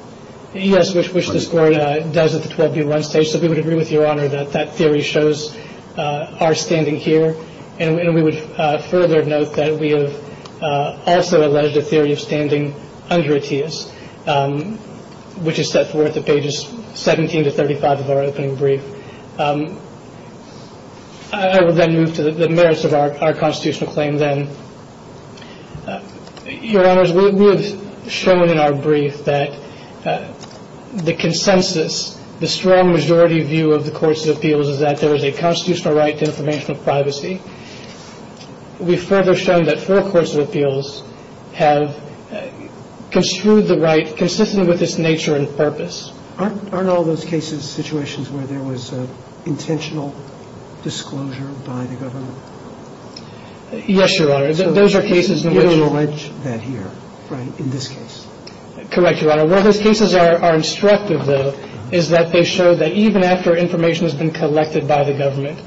Yes which the scoring does at the 12B1 stage so we would agree with your honor that theory shows our standing here and we would further note that we have also alleged a theory of standing under ATIA's which is set forth at pages 17 to 35 of our opening brief. I will then move to the merits of our constitutional claim then. Your honors we have shown in our brief that the consensus the strong majority view of the courts of appeals is that there is a constitutional right to informational privacy. We further show that four courts of appeals have construed the right consistent with its nature and purpose. Aren't all those cases situations where there was intentional disclosure by the government? Yes your honor those are cases where those cases are instructive though is that they show that even after information has been collected by the government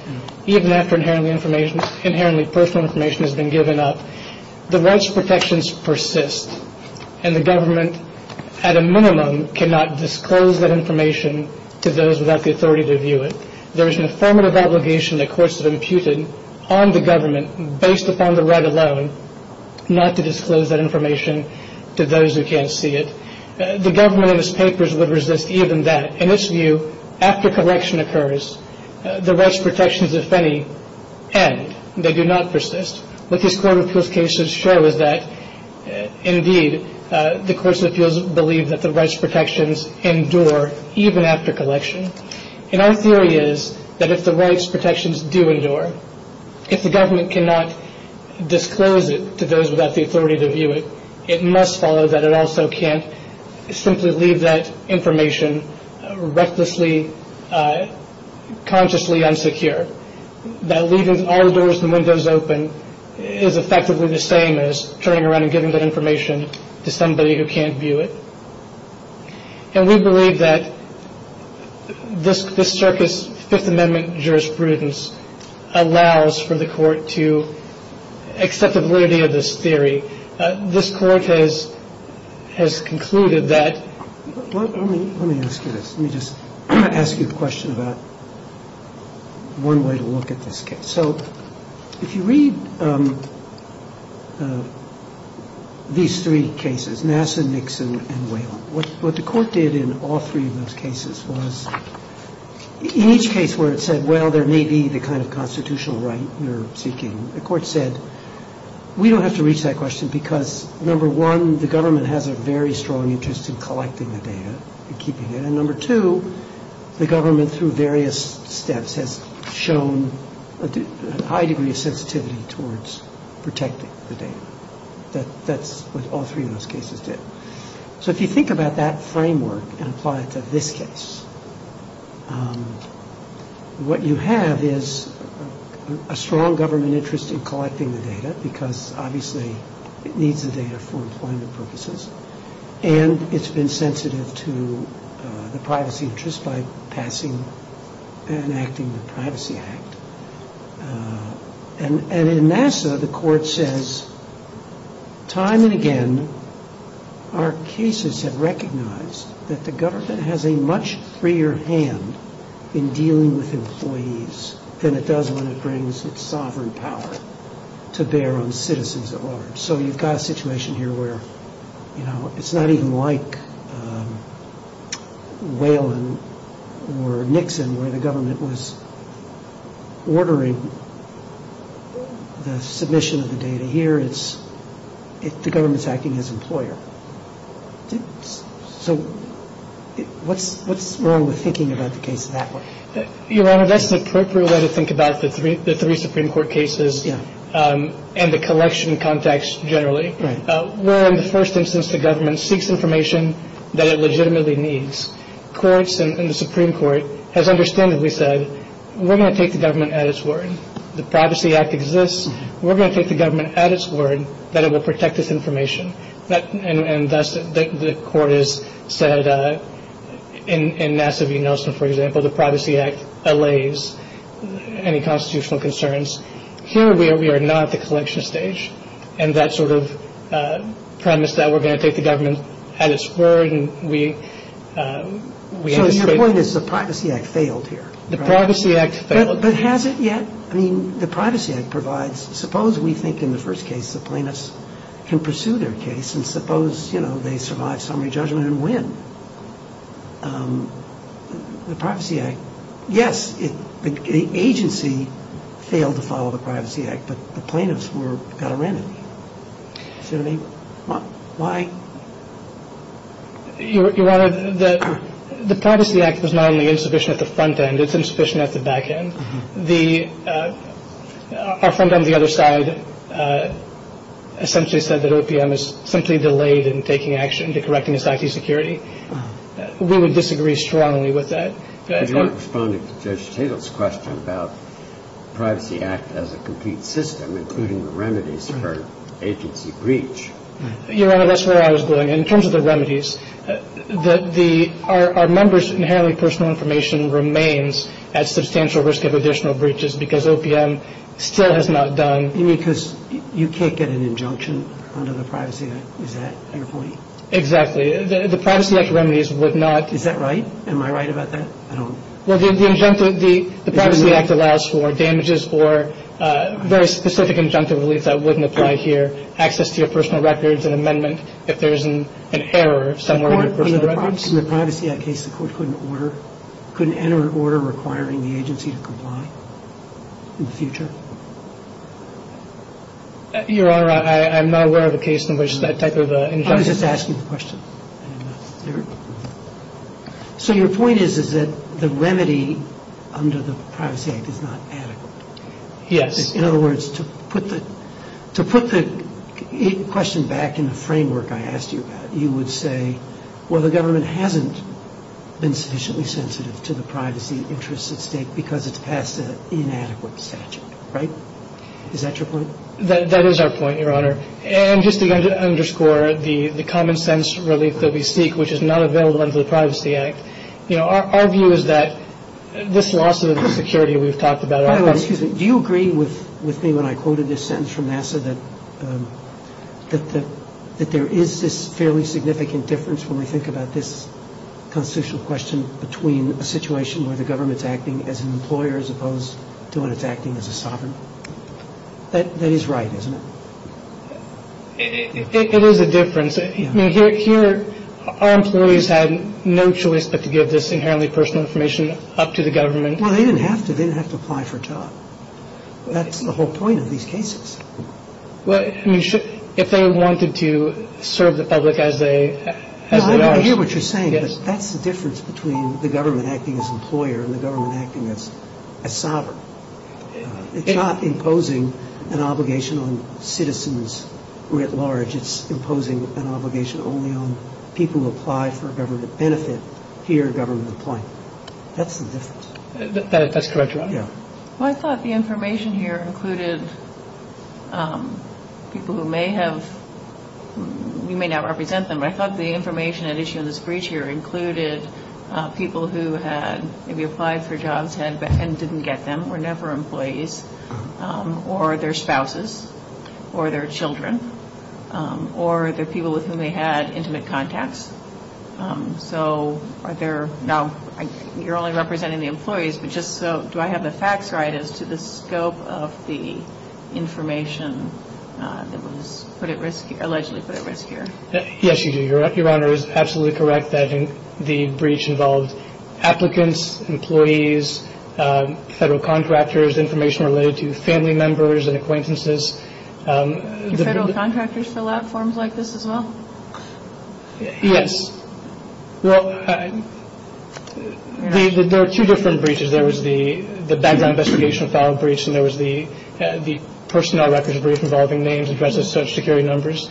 even after inherently information inherently personal information has been given up the rights protections persist and the government at a minimum cannot disclose that information to those without the authority to view it. There is an affirmative obligation that courts have imputed on the government based upon the right alone not to disclose that information to those who can't see it. The government in its papers would resist even that in its view after collection occurs the rights protections if any end they do not persist but these court of appeals cases show that indeed the courts of appeals believe that the rights protections endure even after the collection occurs. If the government cannot disclose it to those without the authority to view it it must follow that it also can't simply leave that information recklessly consciously unsecure that leaving all doors and windows open is effectively the same as turning around and giving that information to somebody who can't view it. And we believe that this circuit's Fifth Amendment jurisprudence allows for the court to accept the validity of this theory. This court has concluded that... Let me ask you a question about one way to look at this case. So if you read these three cases, Nass and Nixon and Whale, what the court did in all three of those cases was in each case where it said, well, there may be the kind of constitutional right you're seeking, the court said, we don't have to reach that question because number one, the government has a very strong interest in collecting the data and keeping it and number two, the government through various steps has shown a high degree of sensitivity towards protecting the data, but that's what all three of those cases did. So if you think about that framework and apply it to this case, what you have is a strong government interest in collecting the data because obviously it needs the data for employment purposes and it's been sensitive to the privacy interest by passing and acting the Privacy Act. And in Nass, the court says time and again, our cases have recognized that the government has a much freer hand in dealing with employees than it does when it brings its sovereign power to bear on the citizens of others. So you've got a situation here where it's not even like Whalen or Nixon where the government was ordering the submission of the data. Here it's the government's acting as employer. So what's wrong with thinking about the case that way? Your Honor, that's an appropriate way to think about the three Supreme Court cases and the collection context generally, where in the first instance the government seeks information that it legitimately needs. Courts and the Supreme Court have understandably said, we're going to take the government at its word. The Privacy Act exists. We're going to take the government at its word that it will protect this information. And thus the court has said in Nass of Unelsa, for example, the Privacy Act allays any constitutional concerns. Here we are not at the collection stage, and that sort of premise that we're going to take the government at its word and we... So your point is the Privacy Act failed here? The Privacy Act failed. But has it yet? I mean, the Privacy Act provides... Suppose we think in the first case the plaintiffs can pursue their case and suppose, you know, they survive summary judgment and win. The Privacy Act... If you follow the Privacy Act, the plaintiffs were better men. So I mean, why? Your Honor, the Privacy Act was not only insufficient at the front end, it's insufficient at the back end. The... Our front end, the other side, essentially said that OPM is simply delayed in taking action to correcting this IT security. We would disagree strongly with that. You don't respond to Judge Taylor's question about the Privacy Act as a complete system, including the remedies for agency breach. Your Honor, that's where I was going. In terms of the remedies, that the... Our members' inherently personal information remains at substantial risk of additional breaches because OPM still has not done... You mean because you can't get an injunction under the Privacy Act? Is that your point? Exactly. The Privacy Act remedies would not... Is that right? Am I right about that? I don't... Well, the injunctive... The Privacy Act allows for damages for very specific injunctive relief that wouldn't apply here. Access to your personal records, an amendment if there's an error somewhere in your personal records. In the Privacy Act case, the court couldn't order... Couldn't enter an order requiring the agency to comply in the future. Your Honor, I'm not aware of a case in which that type of injunction... I was just asking the question. Your... So your point is that the remedy under the Privacy Act is not adequate? Yes. In other words, to put the question back in the framework I asked you about, you would say, well, the government hasn't been sufficiently sensitive to the privacy interests of the state because it's passed an inadequate statute, right? Is that your point? That is our point, Your Honor. And just to underscore the common sense relief that we seek, which is not available under the Privacy Act, you know, our view is that this loss of security we've talked about... Excuse me. Do you agree with me when I quoted this sentence from NASA that there is this fairly significant difference when we think about this constitutional question between a situation where the government is acting as an employer as opposed to when it's acting as a sovereign? That is right, isn't it? It is a difference. I mean, here our employees had no choice but to give this inherently personal information up to the government. Well, they didn't have to. They didn't have to apply for a job. That's the whole point of these cases. Well, I mean, if they wanted to serve the public as they... I hear what you're saying. Yes. That's the difference between the government acting as an employer and the government acting as a sovereign. It's not imposing an obligation on citizens writ large. It's imposing an obligation only on people who applied for government benefit here government applying. That's the difference. That's correct, Your Honor. Yeah. Well, I thought the information here included people who may have... You may not represent them. I thought the information at issue in this breach here included people who had... and didn't get them, were never employees, or their spouses, or their children, or the people with whom they had intimate contacts. So, are there... Now, you're only representing the employees, but just so... Do I have the facts right as to the scope of the information that was put at risk here, allegedly put at risk here? Yes, you do. Your Honor is absolutely correct that the breach involved applicants, employees, federal contractors, information related to family members and acquaintances. Do federal contractors fill out forms like this as well? Yes. Well, there are two different breaches. There was the background investigation file breach, and there was the personnel records breach involving names, addresses, social security numbers.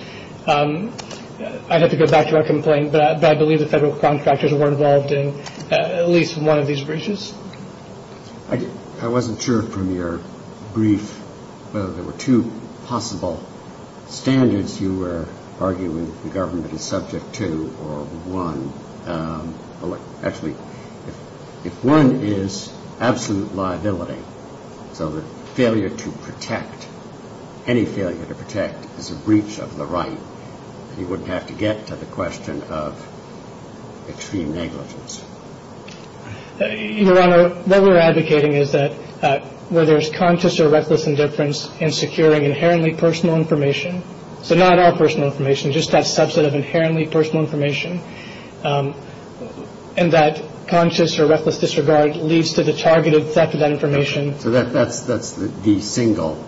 I'd have to go back to my complaint, but I believe the federal contractors were involved in at least one of these breaches. I wasn't sure from your brief. There were two possible standards you were arguing the government is subject to, or one. Actually, if one is absolute liability, so the failure to protect, any failure to protect the breach of the right, you wouldn't have to get to the question of extreme negligence. Your Honor, what we're advocating is that where there's conscious or reckless indifference in securing inherently personal information, so not our personal information, just that subset of inherently personal information, and that conscious or reckless disregard leads to the targeted theft of that information. So that's the single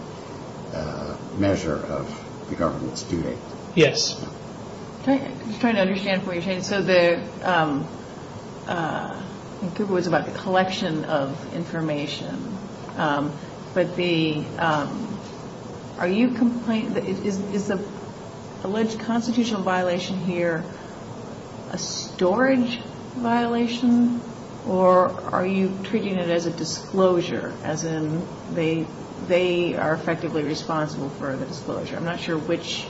measure of the government's duty. Yes. I'm just trying to understand where you're taking this. So the, I think it was about the collection of information, but the, are you, is the alleged constitutional violation here a storage violation, or are you treating it as a disclosure, as in they are effectively responsible for the disclosure? I'm not sure which,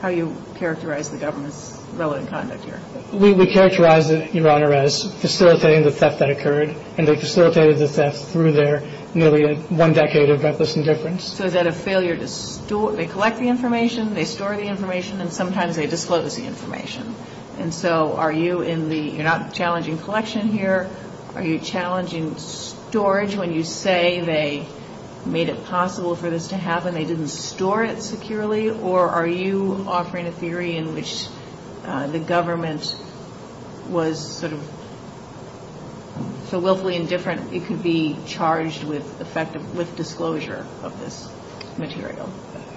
how you characterize the government's relevant conduct here. We characterize it, Your Honor, as facilitating the theft that occurred, and they facilitated the theft through their nearly one decade of reckless indifference. So that a failure to store, they collect the information, they store the information, and sometimes they disclose the information. And so are you in the, you're not challenging collection here, are you challenging storage when you say they made it possible for this to happen, they didn't store it securely, or are you offering a theory in which the government was sort of so willfully indifferent it could be charged with effective, with disclosure of this material?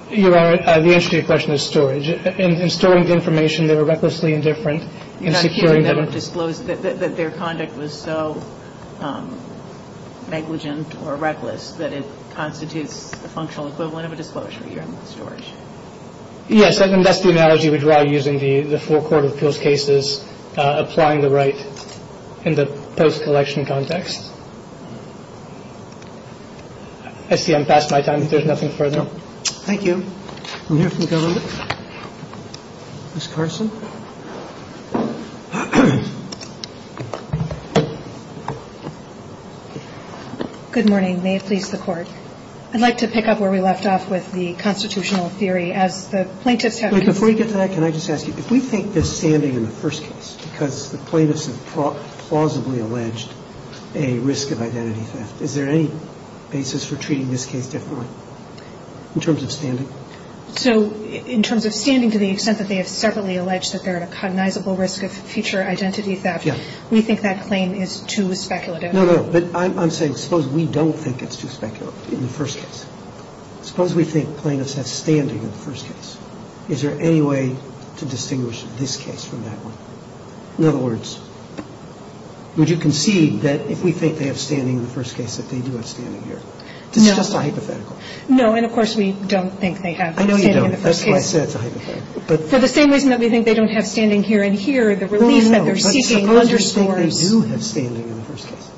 Your Honor, the answer to your question is storage. In storing information, they were recklessly indifferent. You're not saying that it was disclosed, that their conduct was so negligent or reckless that it constitutes a functional equivalent of a disclosure, you're in storage. Yes, that's the analogy we draw using the full court of appeals cases, applying the right in the post-collection context. I see I'm past my time. There's nothing further. Thank you. We have some government? Ms. Carson? Good morning, may it please the court. I'd like to pick up where we left off with the constitutional theory as the plaintiff Before you get to that, can I just ask you, if we think this standing in the first case because the plaintiffs have plausibly alleged a risk of identity theft, is there any basis for treating this case differently? In terms of standing? So, in terms of standing to the extent that they have separately alleged that they're at a cognizable risk of future identity theft, we think that claim is too speculative? No, no, but I'm saying suppose we don't think it's too speculative in the first case. Suppose we think plaintiffs have standing in the first case. Is there any way to distinguish this case from that one? In other words, would you concede that if we think they have standing in the first case that they do have standing here? It's just a hypothetical. No, and of course we don't think they have standing in the first case. I know you don't, that's why I said it's a hypothetical. So the same reason that we think they don't have standing here and here is the relief that they're seeking. No, no, I just don't understand why we do have standing in the first case.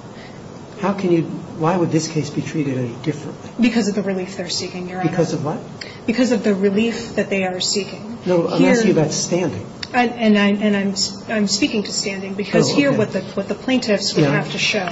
How can you, why would this case be treated any different? Because of the relief they're seeking, Your Honor. Because of what? Because of the relief that they are seeking. No, I'm talking about standing. And I'm speaking to standing because here what the plaintiffs have to show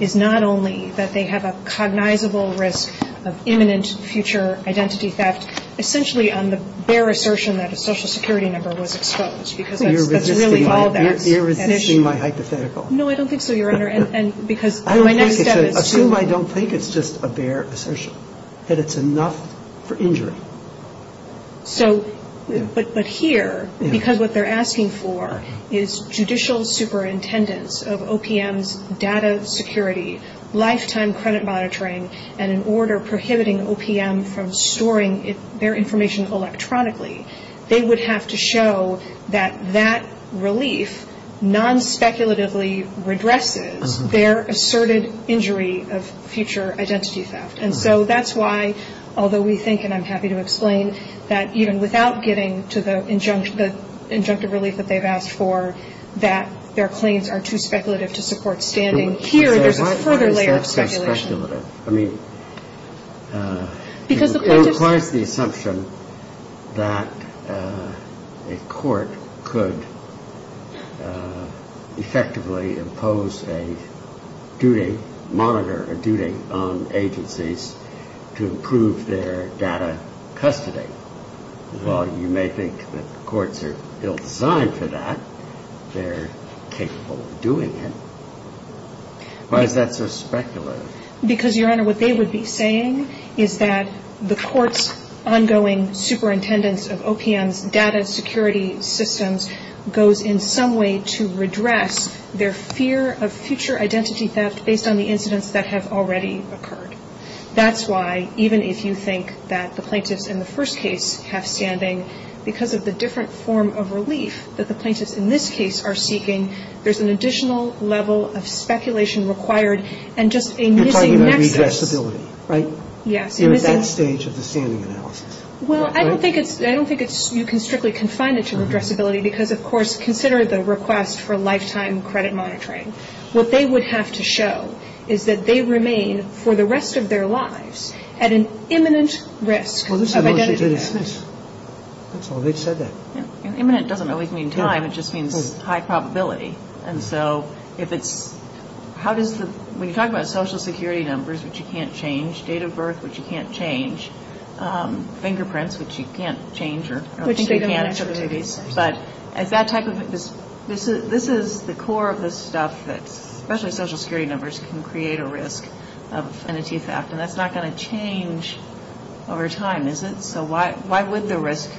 is not only that they have a cognizable risk of imminent future identity theft, essentially on the bare assertion that a Social Security number was exposed. You're resisting my hypothetical. No, I don't think so, Your Honor. Assume I don't think it's just a bare assertion, that it's enough for injury. So, but here, because what they're asking for is judicial superintendents of OPM's data security, lifetime credit monitoring, and an order prohibiting OPM from storing their information electronically. They would have to show that that relief non-speculatively redresses their asserted injury of future identity theft. And so that's why, although we think, and I'm happy to explain, that even without getting to the injunctive relief that they've asked for, that their claims are too speculative to support standing. Here, there's a further layer of speculation. I mean, it's in part the assumption that a court could effectively impose a due date, monitor a due date on agencies to improve their data custody. Well, you may think that courts are still designed for that. They're capable of doing it. Why is that so speculative? Because, Your Honor, what they would be saying is that the court's ongoing superintendents of OPM's data security systems goes in some way to redress their fear of future identity theft based on the incidents that have already occurred. That's why, even if you think that the plaintiff in the first case has standing, because of the different form of relief that the plaintiffs in this case are seeking, there's an additional level of speculation required and just a missing next step. You're talking about redressability, right? Yeah. In that stage of the standing analysis. Well, I don't think you can strictly confine it to redressability because, of course, consider the request for lifetime credit monitoring. What they would have to show is that they remain, for the rest of their lives, at an imminent risk of identity theft. That's all they've said there. Imminent doesn't always mean time. It just means high probability. And so, when you talk about social security numbers, which you can't change, date of birth, which you can't change, fingerprints, which you can't change, which you can't, but at that type of, this is the core of the stuff that, especially social security numbers, can create a risk of identity theft. And that's not going to change over time, is it? So, why would the risk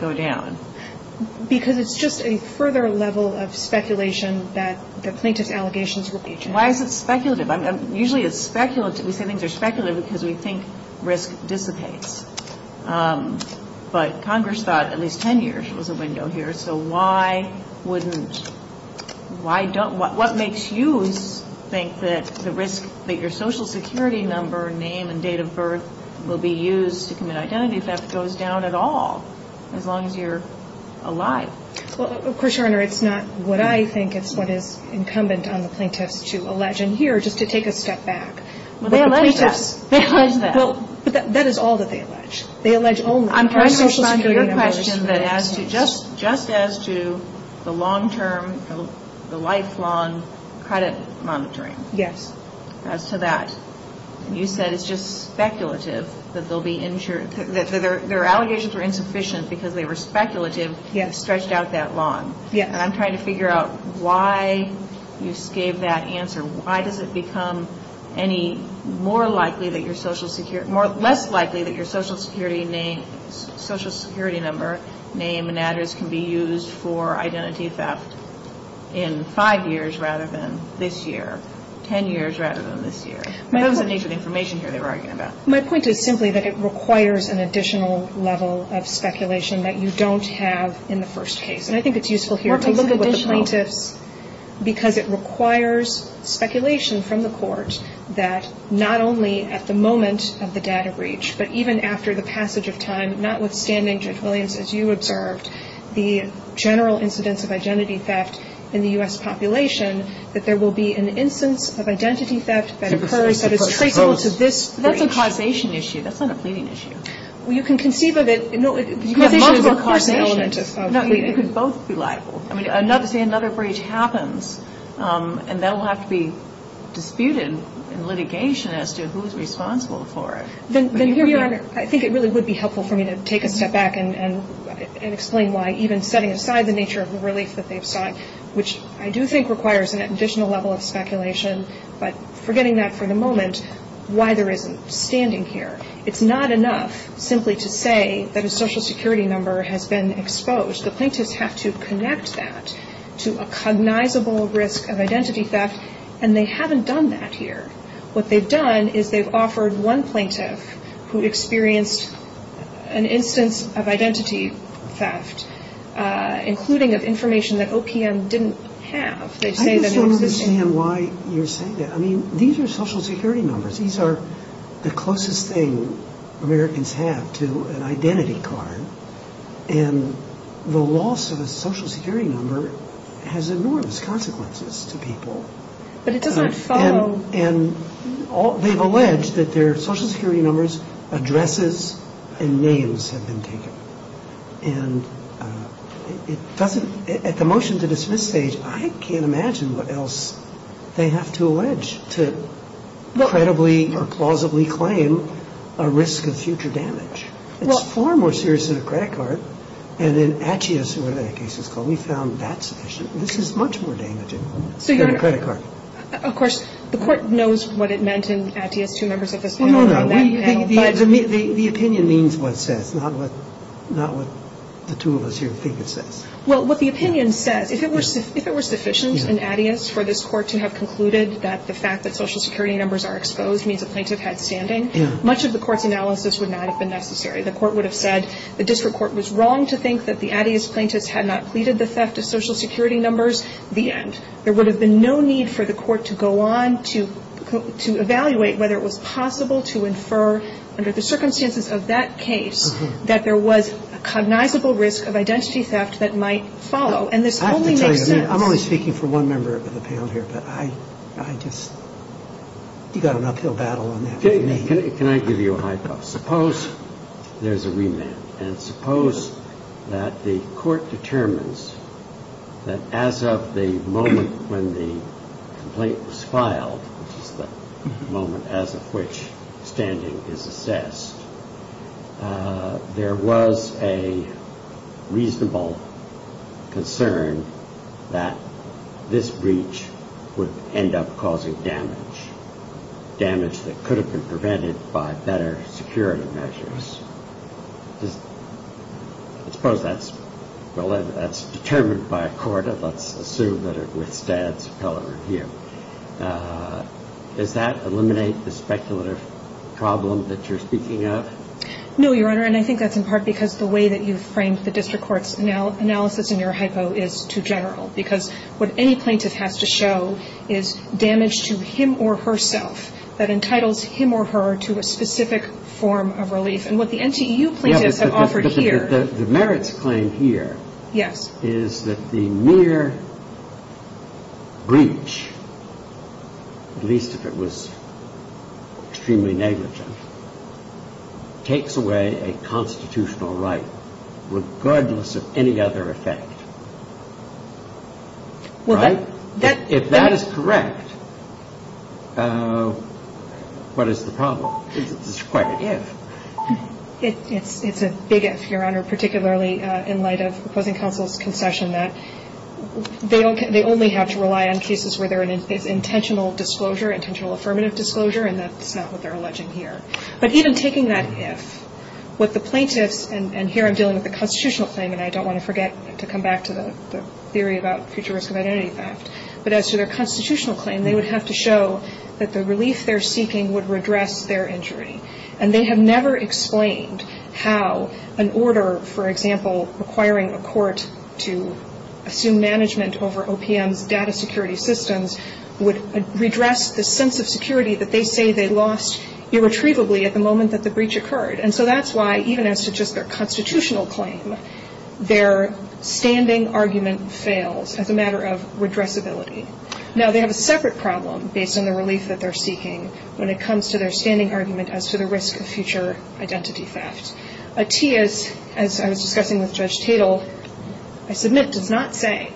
go down? Because it's just a further level of speculation that the plaintiff's allegation to the patient. Why is it speculative? Usually it's speculative because we think risk dissipates. But Congress thought at least 10 years was the window here, so why wouldn't, why don't, what makes you think that the risk, that your social security number, name, and date of birth will be used to commit identity theft goes down at all, as long as you're alive? Well, of course, Your Honor, it's not what I think is what is incumbent on the plaintiff to allege in here, just to take a step back. Well, they allege that. They allege that. Well, that is all that they allege. They allege only. I'm trying to respond to your question that as to, just as to the long-term, the lifelong credit monitoring. Yes. As to that. You said it's just speculative that there'll be, that their allegations are insufficient because they were speculative and stretched out that long. And I'm trying to figure out why you gave that answer. Why does it become any more likely that your social security, less likely that your social security name, social security number, name, and address can be used for identity theft in five years rather than this year, 10 years rather than this year? What is the nature of the information here they're arguing about? My point is simply that it requires an additional level of speculation that you don't have in the first case. And I think it's useful here to look at this plaintiff because it requires speculation from the court that not only at the moment of the data breach, but even after the passage of time, notwithstanding, Judge Williams, as you observed, the general incidence of identity theft in the U.S. population, that there will be an instance of identity theft that occurs that is traceable to this breach. That's a cognition issue. That's not a pleading issue. Well, you can conceive of it. No, you can conceive of the cognition element. No, it could both be liable. I mean, another breach happens and that will have to be disputed in litigation as to who is responsible for it. I think it really would be helpful for me to take a step back and explain why even setting aside the nature of the release that they've sought, which I do think requires an additional level of speculation, but forgetting that for the moment, why there isn't standing here. It's not enough simply to say that a Social Security number has been exposed. The plaintiff has to connect that to a cognizable risk of identity theft and they haven't done that here. What they've done is they've offered one plaintiff who experienced an instance of identity theft, including of information that OPM didn't have. I just don't understand why you're saying that. I mean, these are Social Security numbers. These are the closest thing Americans have to an identity card. And the loss of a Social Security number has enormous consequences to people. But it doesn't follow... And they've alleged that their Social Security number's addresses and names have been taken. And it doesn't... At the motion to dismiss stage, I can't imagine what else they have to allege to credibly or plausibly claim a risk of future damage. It's far more serious than a credit card. And in Addias, who were in that case as well, we found that's the issue. This is much more damaging than a credit card. Of course, the court knows what it meant in Addias to members of the Supreme Court. No, no, no. The opinion means what it says, not what the two of us here think it says. Well, what the opinion said, if it were sufficient in Addias for this court to have concluded that the fact that Social Security numbers are exposed means the plaintiff had standing, much of the court's analysis would not have been necessary. The court would have said the district court was wrong to think that the Addias plaintiffs had not pleaded the theft of Social Security numbers. The end. There would have been no need for the court to go on to evaluate whether it was possible to infer under the circumstances of that case that there was a cognizable risk of identity theft that might follow. And this only makes sense... I'm only speaking for one member of the panel here, but I just... You've got an uphill battle on that. Can I give you a hypothesis? Suppose there's a remand and suppose that the court determines that as of the moment when the complaint was filed, the moment as of which standing is assessed, there was a reasonable concern that this breach would end up causing damage. Damage that could have been prevented by better security measures. Suppose that's determined by a court and let's assume that it would stand, however, here. Does that eliminate the speculative problem that you're speaking of? No, Your Honor, and I think that's in part because the way that you've framed the district court's analysis in your hypo is too general because what any plaintiff has to show is damage to him or herself that entitles him or her to a specific form of relief, and what the NCEU plaintiffs have offered here... The merits claim here is that the mere breach, at least if it was extremely negligent, takes away a constitutional right regardless of any other effect. Right? If that is correct, what is the problem? It's quite an if. It's a big issue, Your Honor, particularly in light of the opposing counsel's concession that they only have to rely on cases where there is intentional disclosure, intentional affirmative disclosure, and that's not what they're alleging here. But even taking that if, with the plaintiffs, and here I'm dealing with a constitutional claim, and I don't want to forget to come back to the theory about future risk of identity theft, but as to their constitutional claim, they would have to show that the relief they're seeking would redress their injury. And they have never explained how an order, for example, acquiring a court to assume management over OPM's data security systems would redress the sense of security that they say they lost irretrievably at the moment that the breach occurred. And so that's why even as to just their constitutional claim, their standing argument fails as a matter of redressability. Now they have a separate problem based on the relief that they're seeking when it comes to their standing argument as to the risk of future identity theft. A TIA, as I was discussing with Judge Tatel, I submit does not say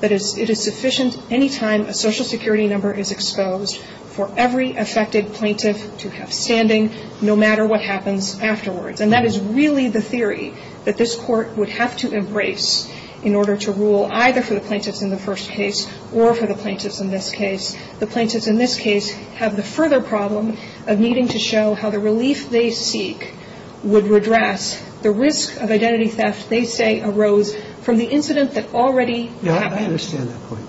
that it is sufficient any time a social security number is exposed for every affected plaintiff to have standing no matter what happens afterwards. And that is really the theory that this court would have to embrace in order to rule either for the plaintiffs in the first case or for the plaintiffs in this case. The plaintiffs in this case have the further problem of needing to show how the relief they seek would redress the risk of identity theft they say arose from the incident that already happened. I understand that point.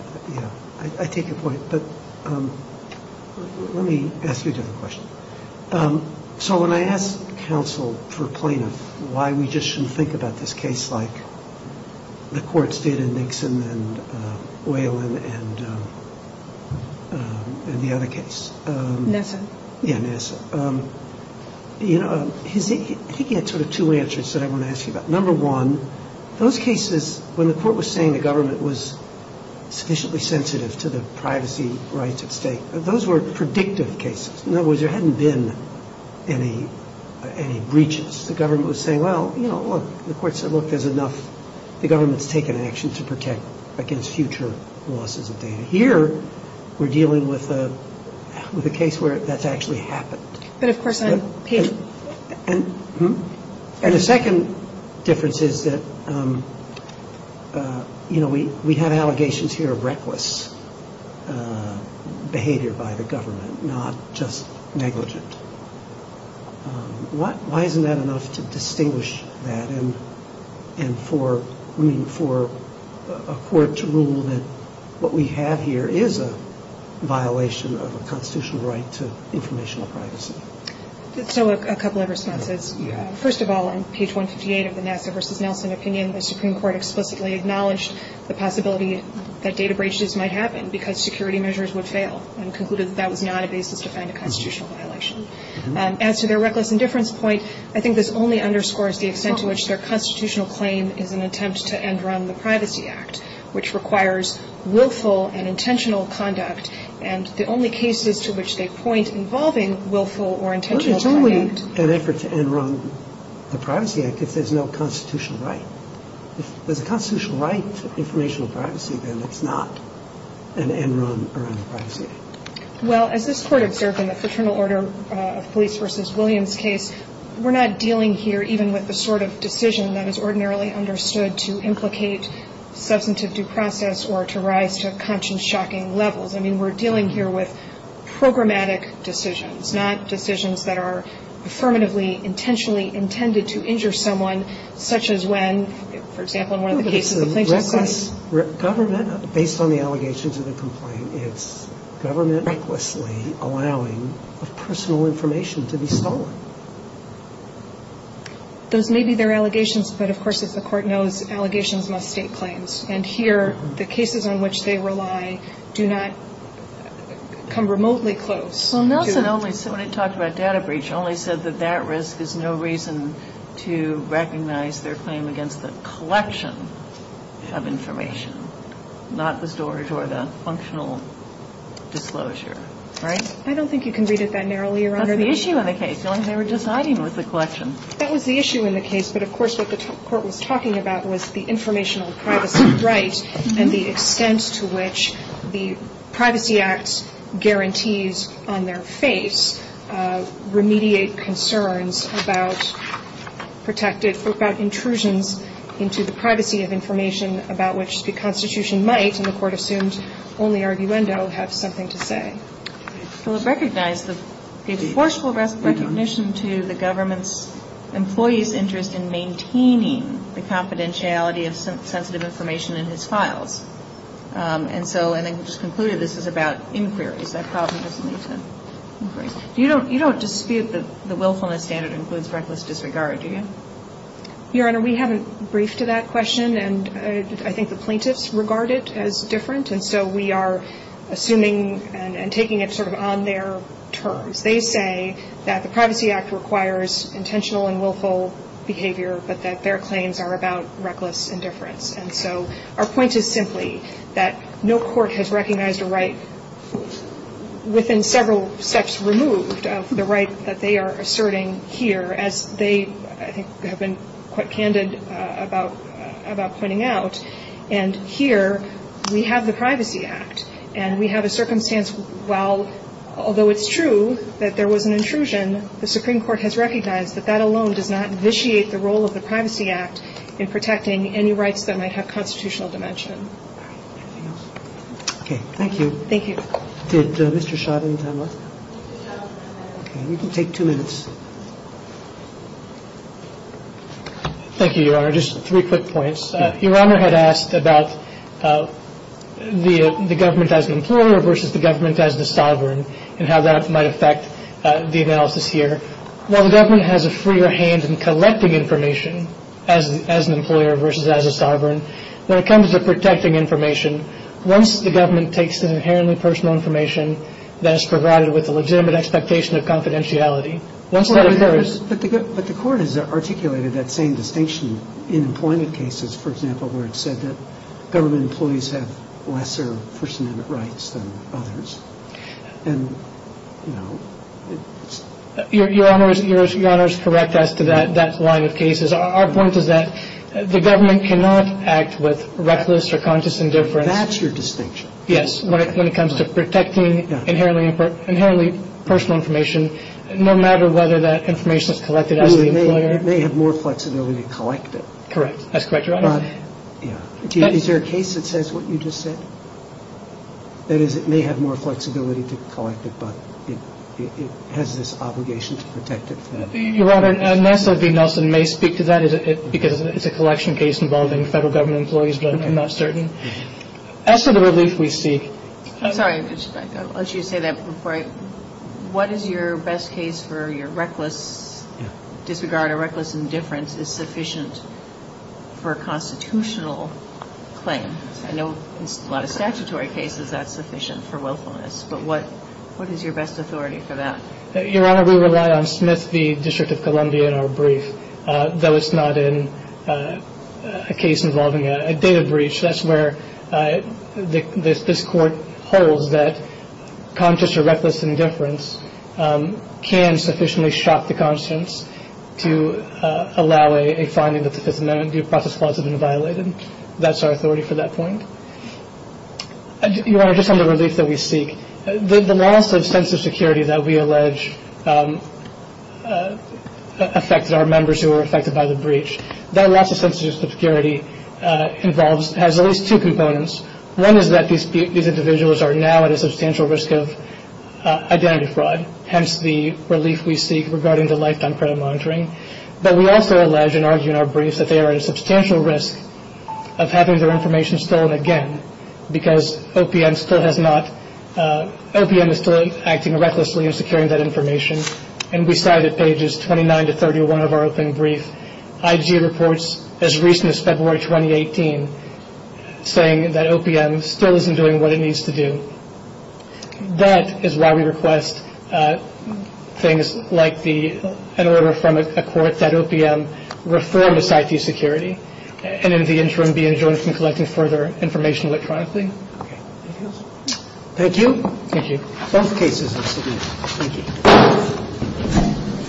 I take your point, but let me ask you a different question. So when I ask counsel for a plaintiff why we just shouldn't think about this case like the courts did in Nixon and Oylen the other case. Nassau? Yeah, Nassau. You know, he gave sort of two answers that I want to ask you about. Number one, those cases when the court was saying the government was sufficiently sensitive to the privacy rights of the state, those were predictive cases. In other words, there hadn't been any breaches. The government was saying, well, the government has taken action to protect against future losses. Here, we're dealing with a case where that's actually happened. And the second difference is that we had allegations here of reckless behavior by the government, not just negligence. Why isn't that enough to distinguish that and for a court to rule that what we have here is a violation of a constitutional right to informational privacy? So, a couple of responses. First of all, on page 168 of the Nassau v. Nelson opinion, the Supreme Court explicitly acknowledged the possibility that data breaches might happen because security measures would fail and concluded that was not a basis to find a constitutional violation. As to their reckless indifference point, I think this only underscores the extent to which their constitutional claim is an attempt to end-run the Privacy Act, which requires willful and intentional conduct and the only cases to which they point involving willful or intentional It's only an effort to end-run the Privacy Act if there's no constitutional right. If there's a constitutional right to informational privacy, then it's not an end-run of the Privacy Act. Well, as this court observed in the Fraternal Order of Police v. Williams case, we're not dealing here even with the sort of decision that is ordinarily understood to implicate susceptive due process or to rise to conscience-shocking levels. I mean, we're dealing here with programmatic decisions, not decisions that are affirmatively intentionally intended to For example, one of the cases based on the allegations of the complaint is government recklessly allowing personal information to be stolen. Those may be their allegations but of course, as the court knows, allegations must state claims. And here, the cases on which they rely do not come remotely close. Well, Nelson, when he talked about data breach, only said that that risk is no reason to the collection of information, not the storage or the functional disclosure, right? I don't think you can read it that narrowly, Your Honor. That's the issue in the case. I'm never deciding with the question. That was the issue in the case, but of course what the court was talking about was the informational privacy right and the extent to which the Privacy Act guarantees on their face remediate concerns about protected intrusions into the privacy of information about which the Constitution might and the court assumes only Arguendo has nothing to say. So it recognized the forceful recognition to the government employee's interest in maintaining the confidentiality of sensitive information in his files. And so I just concluded this is about inquiry. You don't dispute that the willfulness standard includes reckless disregard. Your Honor, we haven't briefed to that question and I think the plaintiffs regard it as different and so we are assuming and taking it sort of on their terms. They say that the Privacy Act requires intentional and willful behavior but that their claims are about reckless indifference. And so our point is simply that no court has recognized a right within several steps removed of the rights that they are asserting here as they have been quite candid about pointing out and here we have the Privacy Act and we have a circumstance while although it's true that there was an intrusion the Supreme Court has recognized that that alone does not vitiate the role of the Privacy Act in protecting any rights that might have constitutional dimension. Okay. Thank you. Thank you. Did Mr. Shaw have any time left? No. Okay. You can take two minutes. Thank you, Your Honor. Just three quick points. Your Honor had asked about the government as an employer versus the government as a sovereign and how that might affect the analysis here. While the government has a freer hand in collecting information as an employer versus as a sovereign when it comes to protecting information once the government takes an inherently personal information that is provided with a legitimate expectation of confidentiality once that occurs But the court has articulated that same distinction in employment cases for example where it said that government employees have lesser personal rights than others and Your Honor is correct as to that line of cases. Our point is that the government cannot act with reckless or conscious indifference That's your distinction. Yes. When it comes to protecting inherently personal information no matter whether that information is collected as an employer It may have more flexibility to collect it. Correct. That's correct, Your Honor. Is there a case that says what you just said? That is it may have more flexibility to collect it but it has this obligation to protect it. Your Honor, Nelson V. Nelson may speak to that because it's a collection case involving federal government employees but I'm not certain As for the relief we see Sorry, I just want you to say that before I What is your best case for your reckless disregard or reckless indifference is sufficient for a constitutional claim? I know a lot of statutory cases that's sufficient for willfulness but what is your best authority for that? Your Honor, we rely on Smith v. District of Columbia in our brief though it's not in a case involving a data breach. That's where this court holds that conscious or reckless indifference can sufficiently shock the conscience to allow a finding that the process has been violated. That's our authority for that point. Your Honor, just on the relief that we seek, the loss of security that we allege affected our members who were affected by the breach. That loss of sensitive security has at least two components. One is that these individuals are now at a substantial risk of identity fraud. Hence the relief we seek regarding the lifetime credit monitoring. But we also allege in our brief that they are at a substantial risk of having their information stolen again because OPM still has not OPM is still acting recklessly in securing that information and we cited pages 29 to 31 of our open brief. IG reports as recent as February 2018 saying that OPM still isn't doing what it needs to do. That is why we request things like the an order from a court that OPM reform this IT security and in the interim be enjoined in collecting further information electronically. Thank you. Thank you.